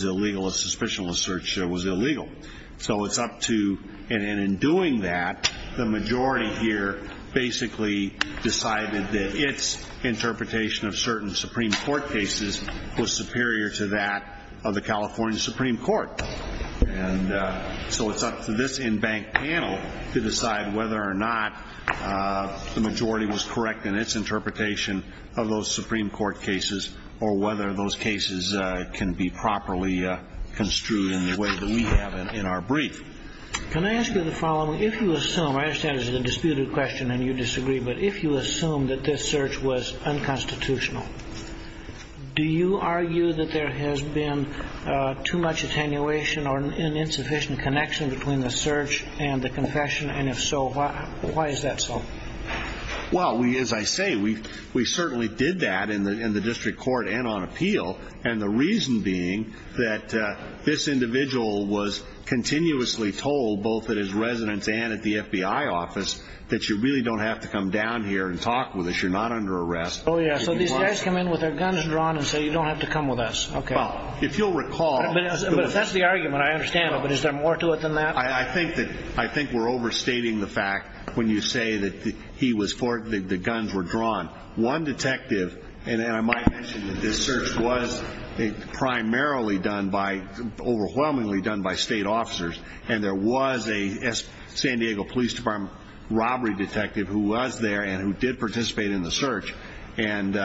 illegal, a suspicionless search was illegal. So it's up to, and in doing that, the majority here basically decided that its interpretation of certain Supreme Court cases was superior to that of the California Supreme Court. And so it's up to this in-bank panel to decide whether or not the majority was correct in its interpretation of those Supreme Court cases or whether those cases can be properly construed in the way that we have in our brief. Can I ask you the following? If you assume, I understand this is a disputed question and you disagree, but if you assume that this search was unconstitutional, do you argue that there has been too much attenuation or an insufficient connection between the search and the confession, and if so, why is that so? Well, as I say, we certainly did that in the district and the FBI office that you really don't have to come down here and talk with us. You're not under arrest. So these guys come in with their guns drawn and say you don't have to come with us. If you'll recall... That's the argument. I understand it, but is there more to it than that? I think we're overstating the fact that the search was primarily done by state officers, and there was a San Diego police department robbery detective who was there and did participate in the search, and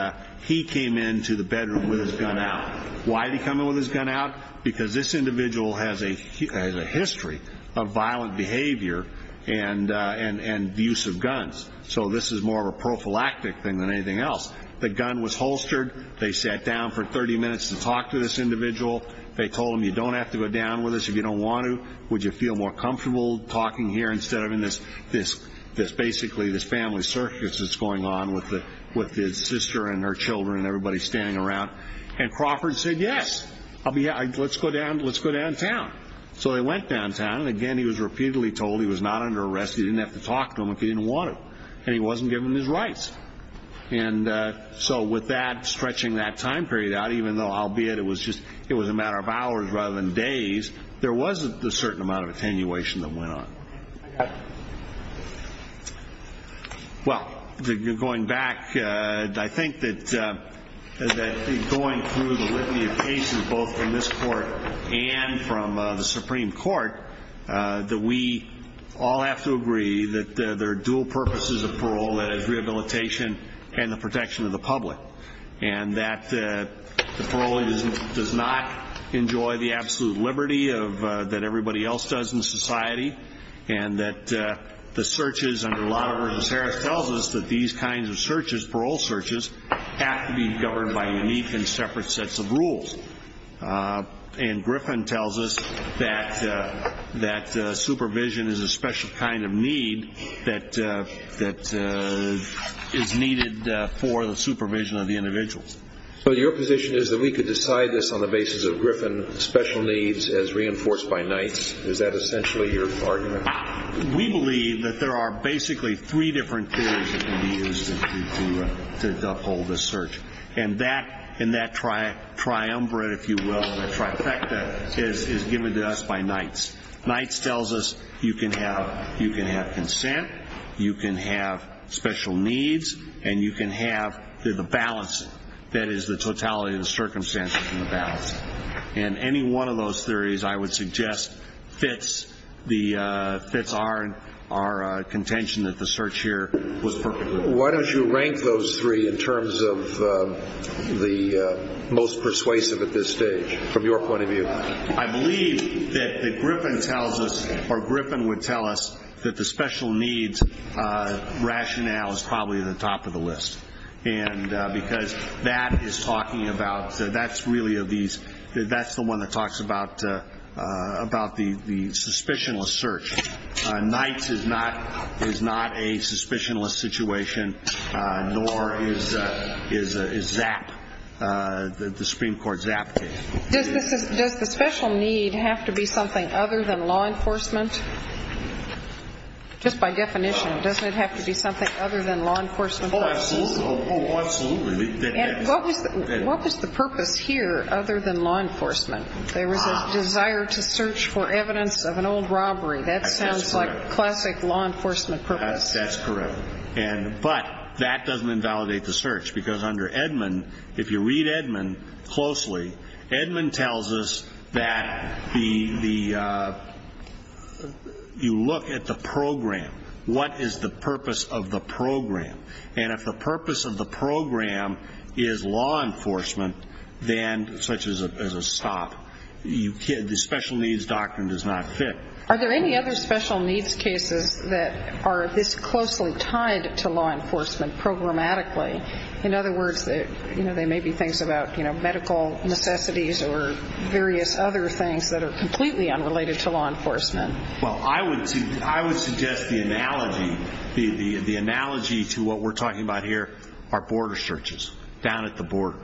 he came in to the bedroom with his gun out. Why did he come in with his gun out? Because this individual has a history of violent behavior and abuse of guns. So this is more of a prophylactic thing than anything else. The gun was holstered. They sat down for 30 minutes to talk to this individual. They told him you don't have to go down with us if you don't want to. Would you feel more comfortable talking here instead of in this family circus that's going on with his sister and her children and everybody standing around? Crawford said yes. Let's go downtown. So they went downtown. He was told he was not under arrest. He wasn't given his rights. So with that stretching that time period out, even though it was a matter of hours rather than days, there was a certain amount of attenuation that went on. Well, going back, I think that going through the written cases both in this court and from the Supreme Court, that we all have to agree that there are dual purposes of parole, that is rehabilitation and the protection of the public. And that parole does not enjoy the absolute liberty that everybody else does in society, and that the searches under the law of versus Harris tells us that these kinds of searches, parole searches, have to be governed by unique and separate sets of rules. And Griffin tells us that supervision is a special kind of need that is needed for the supervision of the individuals. So your position is that we could decide this on the basis of the Supreme Court's ruling. We believe that there are basically three different theories that can be used to uphold this search. And that triumvirate, if you will, the trifecta, is given to us by Knights. Knights tells us you can have consent, you can have special needs, and you can have the balancing, that any one of those theories, I would suggest, fits our contention that the search here was perfect. Why don't you rank those three in terms of the most persuasive at this stage, from your point of view? I believe that Griffin would tell us that the special needs rationale is probably at the top of the list. And because that is talking about the suspicionless search, Knights is not a suspicionless situation, nor is ZAP. The Supreme Court ZAP case. Does the special need have to be something other than law enforcement? Just by definition, doesn't it have to be something other than law enforcement? Oh, absolutely. What was the purpose here other than law enforcement? There was a desire to search for evidence of an old robbery. That sounds like a classic law enforcement purpose. That's correct. But that doesn't invalidate the search. If you read Edmund closely, he tells us that you look at the program, what is the purpose of the program is law enforcement such as a stop. The special needs doctrine does not fit. Are there any other special needs cases that are this closely tied to law enforcement programmatically? In other words, there may be things about medical necessities or various other things that are completely unrelated to law enforcement. I would suggest the analogy to what we're talking about here are border searches down at the border.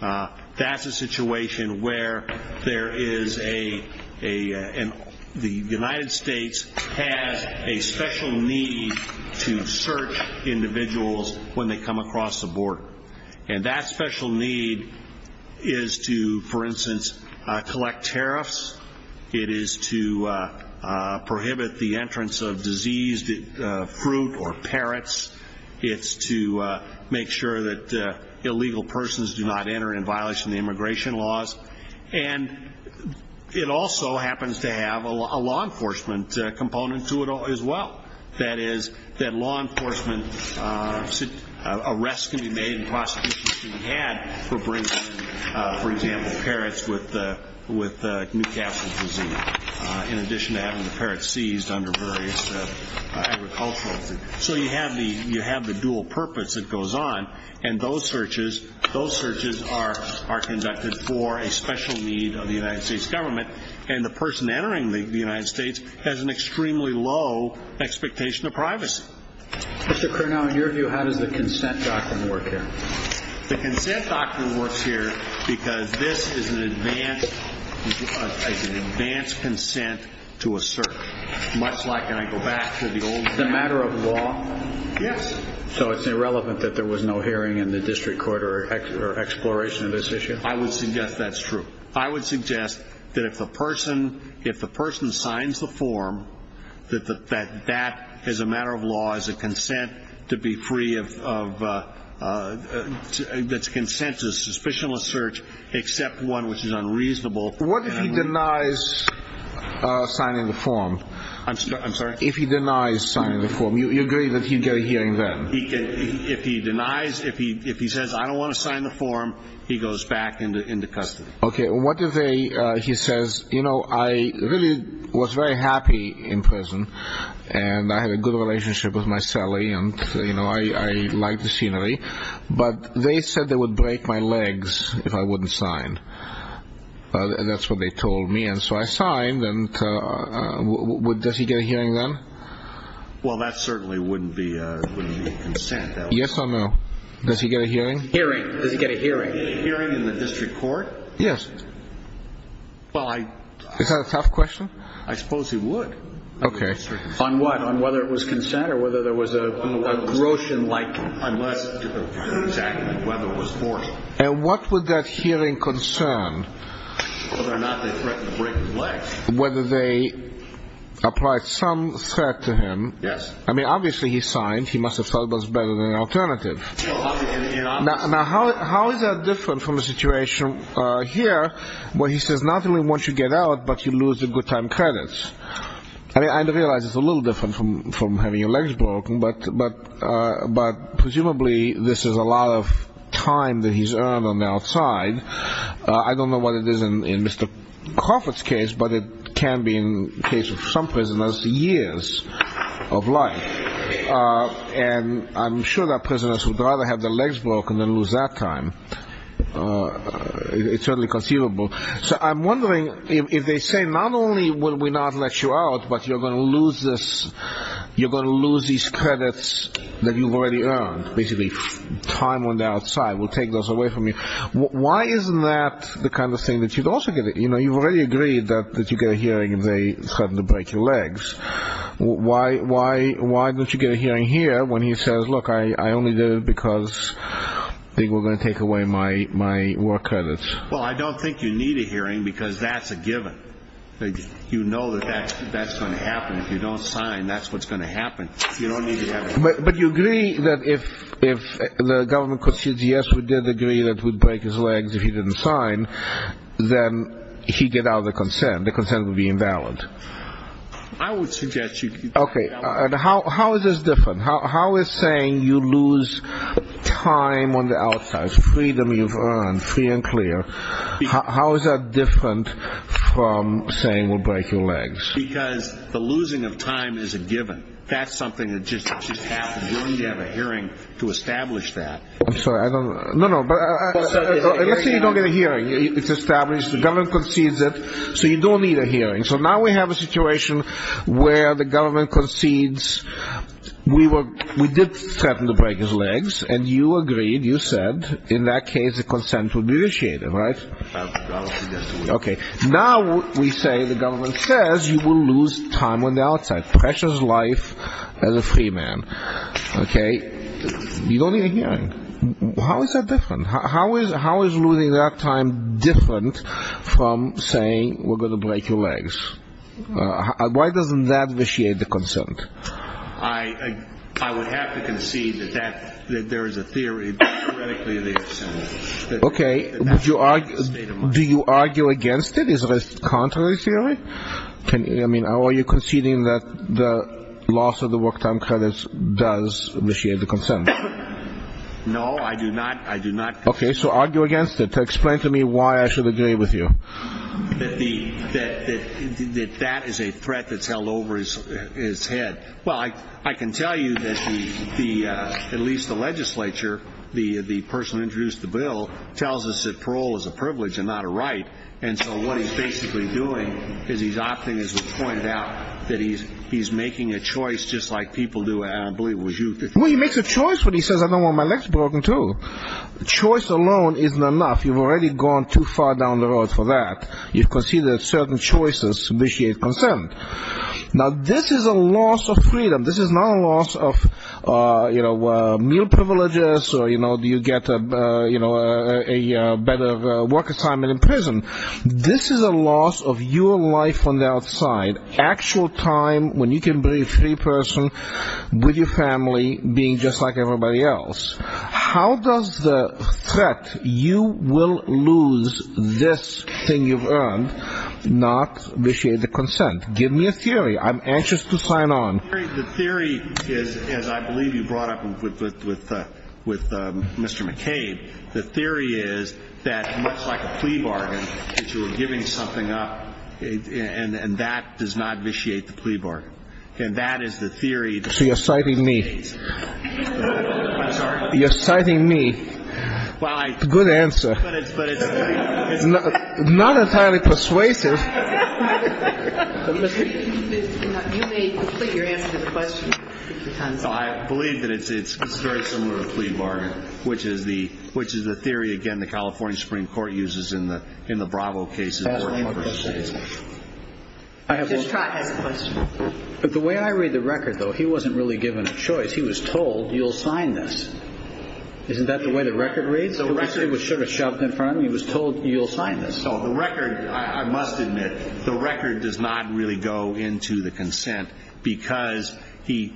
That's a situation where there is a the United States has a special need to search individuals when they come across the border. And that special need is to, for instance, collect tariffs. It is to prohibit the entrance of fruit or parrots. It's to make sure that illegal persons do not enter in violation of immigration laws. And it also happens to have a law enforcement component to it as well. That is, that law enforcement arrests and prosecutions for bringing, for example, parrots with nuke acid disease. In addition to having the parrots seized under various agricultural laws. So you have the dual purpose that goes on. searches are conducted for a special need of the United States government. And the person entering the United States has an extremely low expectation of privacy. The consent doctrine works here because this is an advanced consent to a search. It's a matter of law. So it's irrelevant that there was no hearing in the district court or exploration of this issue. I would suggest that's true. I would suggest that if the person signs the form, that that is a matter of law, is a consent to be free of that's a consensus, a suspicionless search, except one which is unreasonable. What if he denies signing the form? I'm sorry? If he denies signing the form, you agree that he'd get a hearing then? If he denies, if he says, I don't want to sign the form, he goes back into custody. Okay. What if he says, you know, I really was very happy in prison and I had a good relationship with my celly and I liked the scenery, but they said they would break my legs if I wouldn't sign. That's what they told me. So I signed. Does he get a hearing then? Well, that certainly wouldn't be consent. Yes or no? Does he get a hearing then? Is that a tough question? I suppose he would. Okay. On what? On whether it was consent or whether there was a gross indictment. And what would that hearing concern? Whether they applied some threat to him. Yes. I mean, obviously he signed. He must have felt it was better than an alternative. Now, how is that different from the situation here where he says not only once you get out, but you lose the good time credits? I realize it's a little different from having your legs broken, but presumably this is a lot of time that he's earned on the outside. I don't know what it is in Mr. Crawford's case, but it can be in the case of some prisoners, years of life. And I'm sure that prisoners would rather have their legs broken than lose that time. It's certainly conceivable. So I'm wondering if they say not only will we not let you out, but you're going to lose these credits that you've already earned, because basically time on the outside will take those away from you. Why isn't that the kind of thing that you'd also get? You've already agreed that you get a hearing if they suddenly break your legs. Why don't you get a hearing here when he says, look, I only did it because they were going to take away my war credits? Well, I don't think you need a hearing because that's a given. You know that that's going to happen. If you don't sign, that's what's going to happen. But you agree that if the government could say, yes, we did agree that we'd break his legs if he didn't sign, then he'd get a hearing. hearing, you don't have the consent. The consent would be imbalanced. How is this different? How is saying you lose time on the outside, freedom you've earned, free and clear, how is that different from saying we'll break your legs? Because the losing of time is a given. That's something that just happens. You'll need to have a hearing to establish that. You don't get a hearing. It's established. The government concedes it. So you don't need a hearing. So now we have a situation where the government concedes, we did threaten to break his legs and you agreed, you said, in that case the consent would be initiated, right? Now we say the government says you will lose time on the outside, precious life as a free man. You don't need a hearing. How is that different? How is losing that time different from saying we're going to break your legs? Why doesn't that initiate the consent? I would have to argue against it. Explain to me why I should agree with you. That is a threat you that the government doesn't agree with you. I can tell you that the government doesn't agree with you. I can tell you that the legislature tells us parole is a privilege and not a right. What he's basically doing is pointing out that he's making a choice He makes a choice when he says I don't want my legs broken too. Choice alone isn't enough. You've already gone too far down the line. too far down the line. This is a loss of your life on the outside. Actual time when you can be a free person with your family being just like everybody else. How does the threat you will lose this thing you've earned not initiate the consent? Give me a chance to sign on. The theory is as I believe you brought up with Mr. McCain, the theory is that much like a plea bargain that you were giving something up and that does not initiate the plea bargain. And that is the theory. So you're citing me. You're citing me. Good answer. Not entirely persuasive. You may complete your answer to the question. I believe it is very similar to the plea bargain, which is the theory again the California Supreme Court uses in the Bravo case. But the way I read the record though, he wasn't really given a choice. He was told you'll sign this. Isn't that the way the record reads? He was told you'll sign this. The record does not really go into the consent because it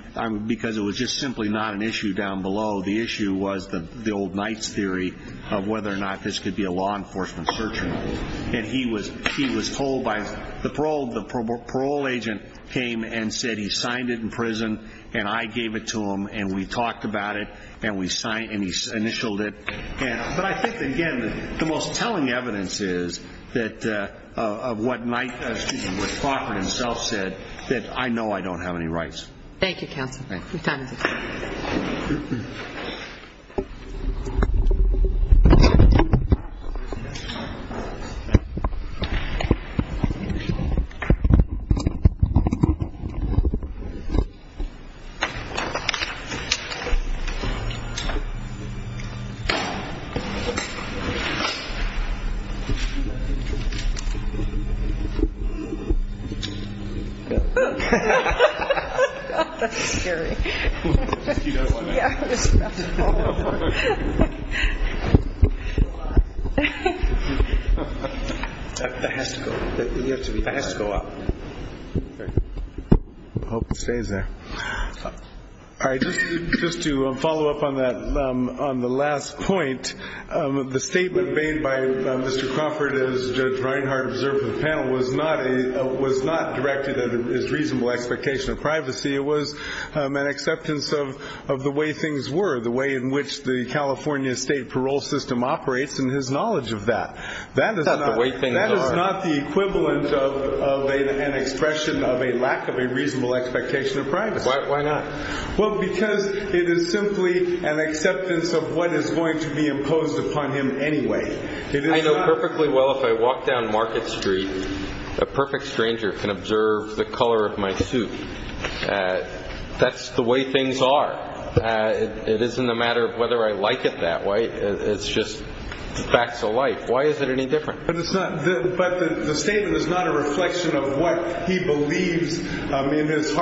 was just simply not an issue down below. The issue was the theory of whether or not this could be a law enforcement search warrant. The parole agent came and said he signed it in prison and I gave it to him and we talked about it and we initialed it. But I think again the most telling evidence is of what Faulkner himself said that I know I don't have any rights. Thank you, Ken. Good time. Just to follow up on the last point, the statement made by Mr. Crawford as Judge Reinhardt observed the panel was not directed at his reasonable expectation of privacy. It was an acceptance of the way things were, the way in which the California state parole system operates and his knowledge of that. That is not the equivalent of an expression of a lack of a reasonable expectation of privacy. Why not? Because it is simply an acceptance of what is going to be imposed upon him anyway. I know perfectly well if I walk down Market Street a perfect stranger can observe the color of my suit. That is the way things are. It isn't a matter of whether I like it that way. It is just the facts of life. Why is it any different? But the statement is not a reflection of what he believes in his life. If I go out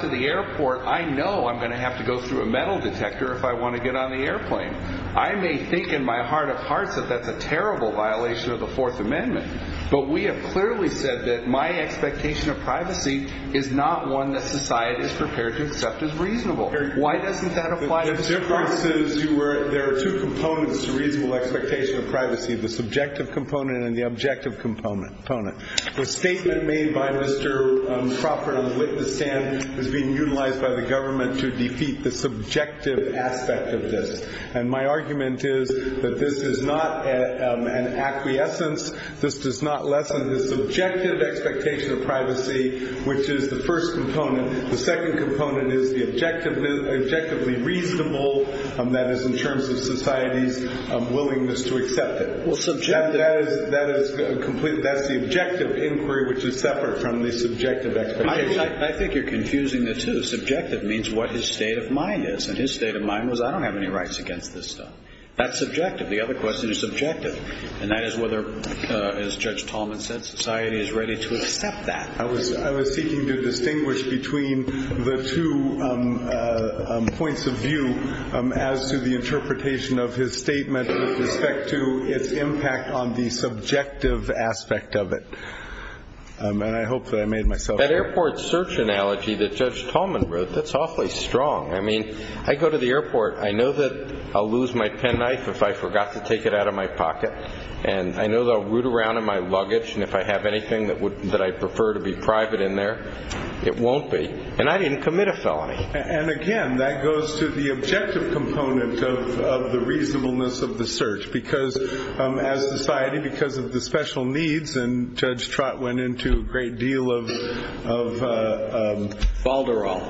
to the airport I know I will have to go through a metal detector if I want to get on the airplane. We have clearly said my expectation of privacy is not one that society is prepared to accept as reasonable. Why doesn't that apply? There are two components to reasonable expectation of privacy. The subjective component is being utilized by the government to defeat the subjective aspect of this. My argument is this is not an acquiescence. This is the objective expectation of privacy which is the first component. The second component is the objectively reasonable in terms of society's willingness to accept it. That is the objective inquiry which is separate from the subjective expectation. I think you are confusing the two. Subjective means what his state of mind is. His state of mind was I don't have any rights against this stuff. That is subjective. The other question is subjective. That is whether society is ready to accept that. I was seeking to distinguish between the two points of view as to the reasonableness search. I hope I made myself clear. That is awfully strong. I go to the airport and I know I will lose my pen knife if I forgot to take it out of my pocket. If I have anything I prefer to be private in there, it won't be. I didn't commit a felony. Again, that goes to the objective component of the reasonableness of the search. As a society, because of the special needs, Judge Trott went into a great deal of Balderall.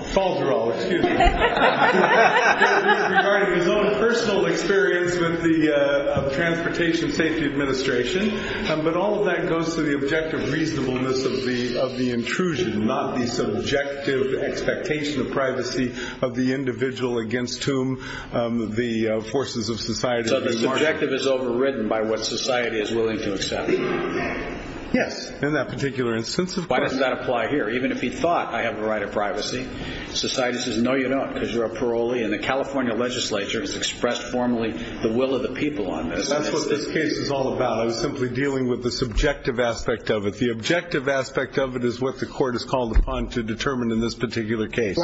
His own personal experience with the transportation safety administration. All of that goes to the objective reasonableness of the search. The objective expectation of privacy of the individual against whom the forces of society are. The objective is overridden by what society is willing to accept. Even if he thought I have the right of privacy, society says no you don't because you are parolee. The California legislature expressed formally the will of the people. The objective aspect is what the court called upon to determine in this particular case.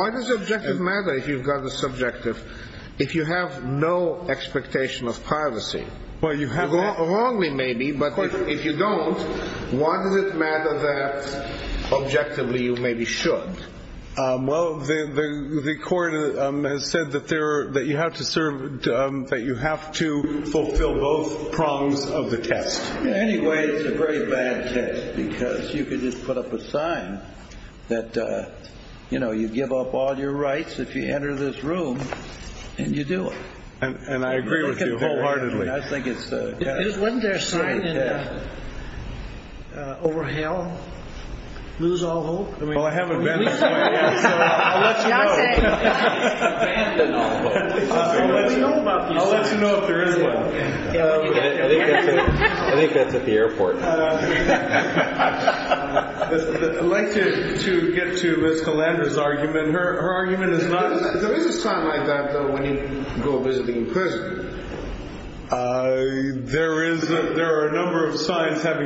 If you have no expectation of privacy if you don't, why does it matter that objectively you maybe should? Well, the court has said that you have to fulfill both prongs of the test. Anyway, it's a very bad test because you can put up a sign that you give up all your rights if you enter this room and you do it. Isn't there a sign that says over hell lose all hope? Well, I have a message for you. I'll let you know. I'll let you know if there is one. I'd like you to get to Ms. Galanda's argument. Her argument is not that there is no hope. There are a number of signs that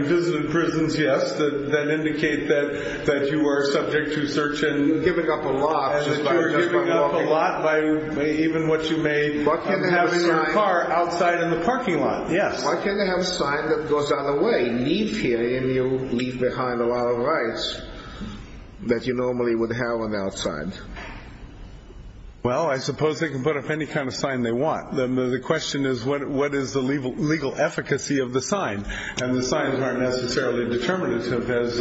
indicate that you are subject to search and giving up a lot outside the parking lot. Why can't they have a sign that goes on the parking lot? The question is what is the legal efficacy of the sign? And the signs aren't necessarily determinative as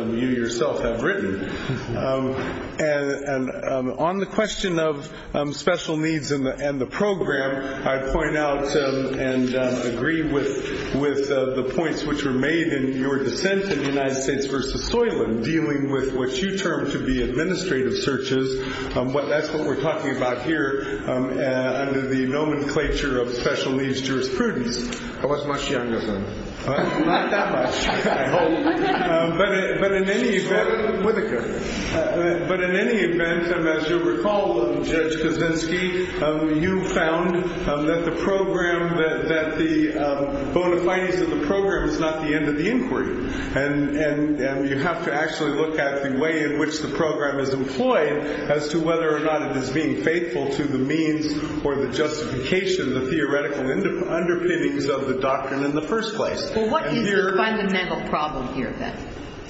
you yourself have written. On the question of special needs and the program, I'd point out and agree with the points which were made in your question. The question is that the program is not the end look at the way in which the program is being used. And the question is that the program is not the end look at the way in which the program is employed as to whether or not it is being faithful to the means or the justification of the theoretical underpinnings of the doctrine in the first place.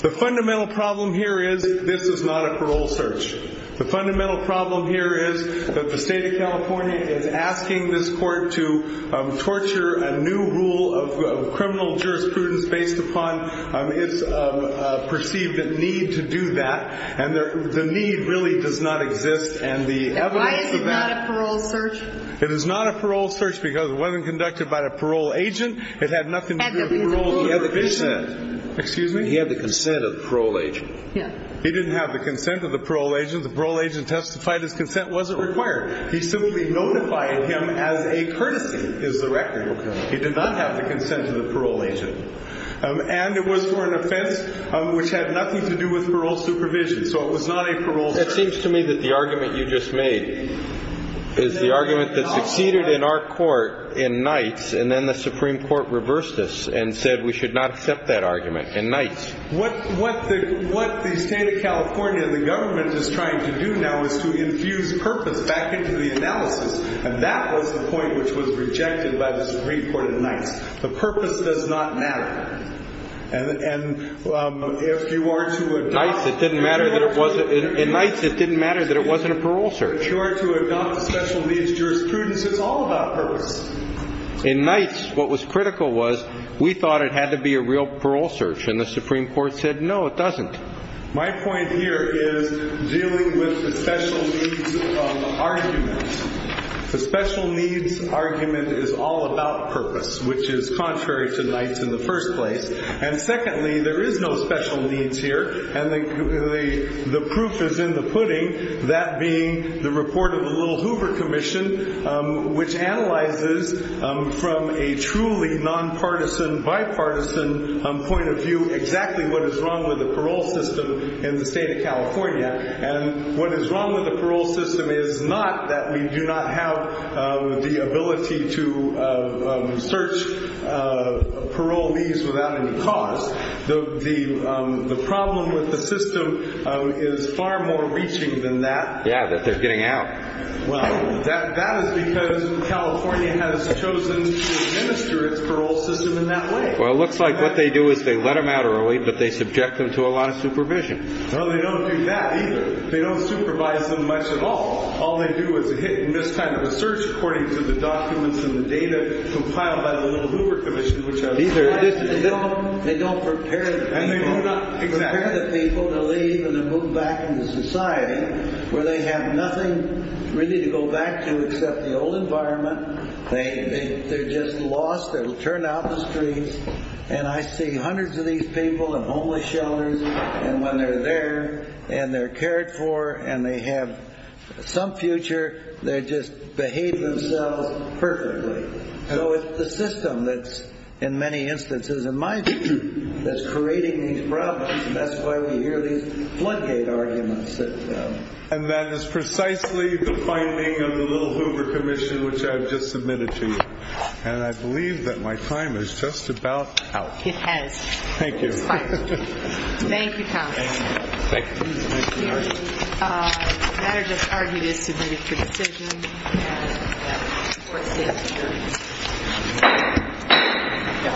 The fundamental problem here is that this is not a parole search. The fundamental problem here is that the state of California is asking this court to torture a new rule of criminal jurisprudence based upon the perceived need to do that and the need does not exist. It is not a parole search because it wasn't conducted by a parole agent. It had nothing to do with parole supervision. He had the consent of the parole agent. He didn't have the consent of the parole agent. The parole agent testified his consent wasn't there. It seems to me that the argument you just made is the argument that succeeded in our court in nights and then the Supreme Court reversed this and said we should not accept that argument in nights. What the state of California and the government is trying to do now is to infuse purpose back into the analysis. And that was the point that was rejected by the Supreme Court in nights. The purpose does not matter. In nights it didn't matter that it wasn't a parole search. In nights what was critical was we thought it had to be a real parole search and the Supreme Court said no it wasn't parole search. The special needs argument is all about purpose which is contrary to nights in the first place and secondly there is no special needs here and the proof is in the pudding that being the report of the little thing. problem with the system is not that we do not have the ability to search parole needs without any cost. The problem with the system is far more reaching than that. That is because California has chosen to administer the parole system in a way that they subject them to a lot of supervision. They don't do that either. They don't supervise them much at all. All they do is hit in this kind of research according to the documents and the data compiled by the little Hoover Commission. They don't prepare the people to leave and move back into society where they have nothing to go back to except the old environment. They are just lost. They have turned out the streets and I see hundreds of these people in homeless shelters and when they are there and they are cared for and they have some future, they just behave themselves perfectly. So it's the system that in many instances in my district that's creating these problems and that's why we hear these floodgate arguments. And that is precisely the finding of the little Hoover Commission which I have just submitted to you. And I believe that my time is just about out. Thank you.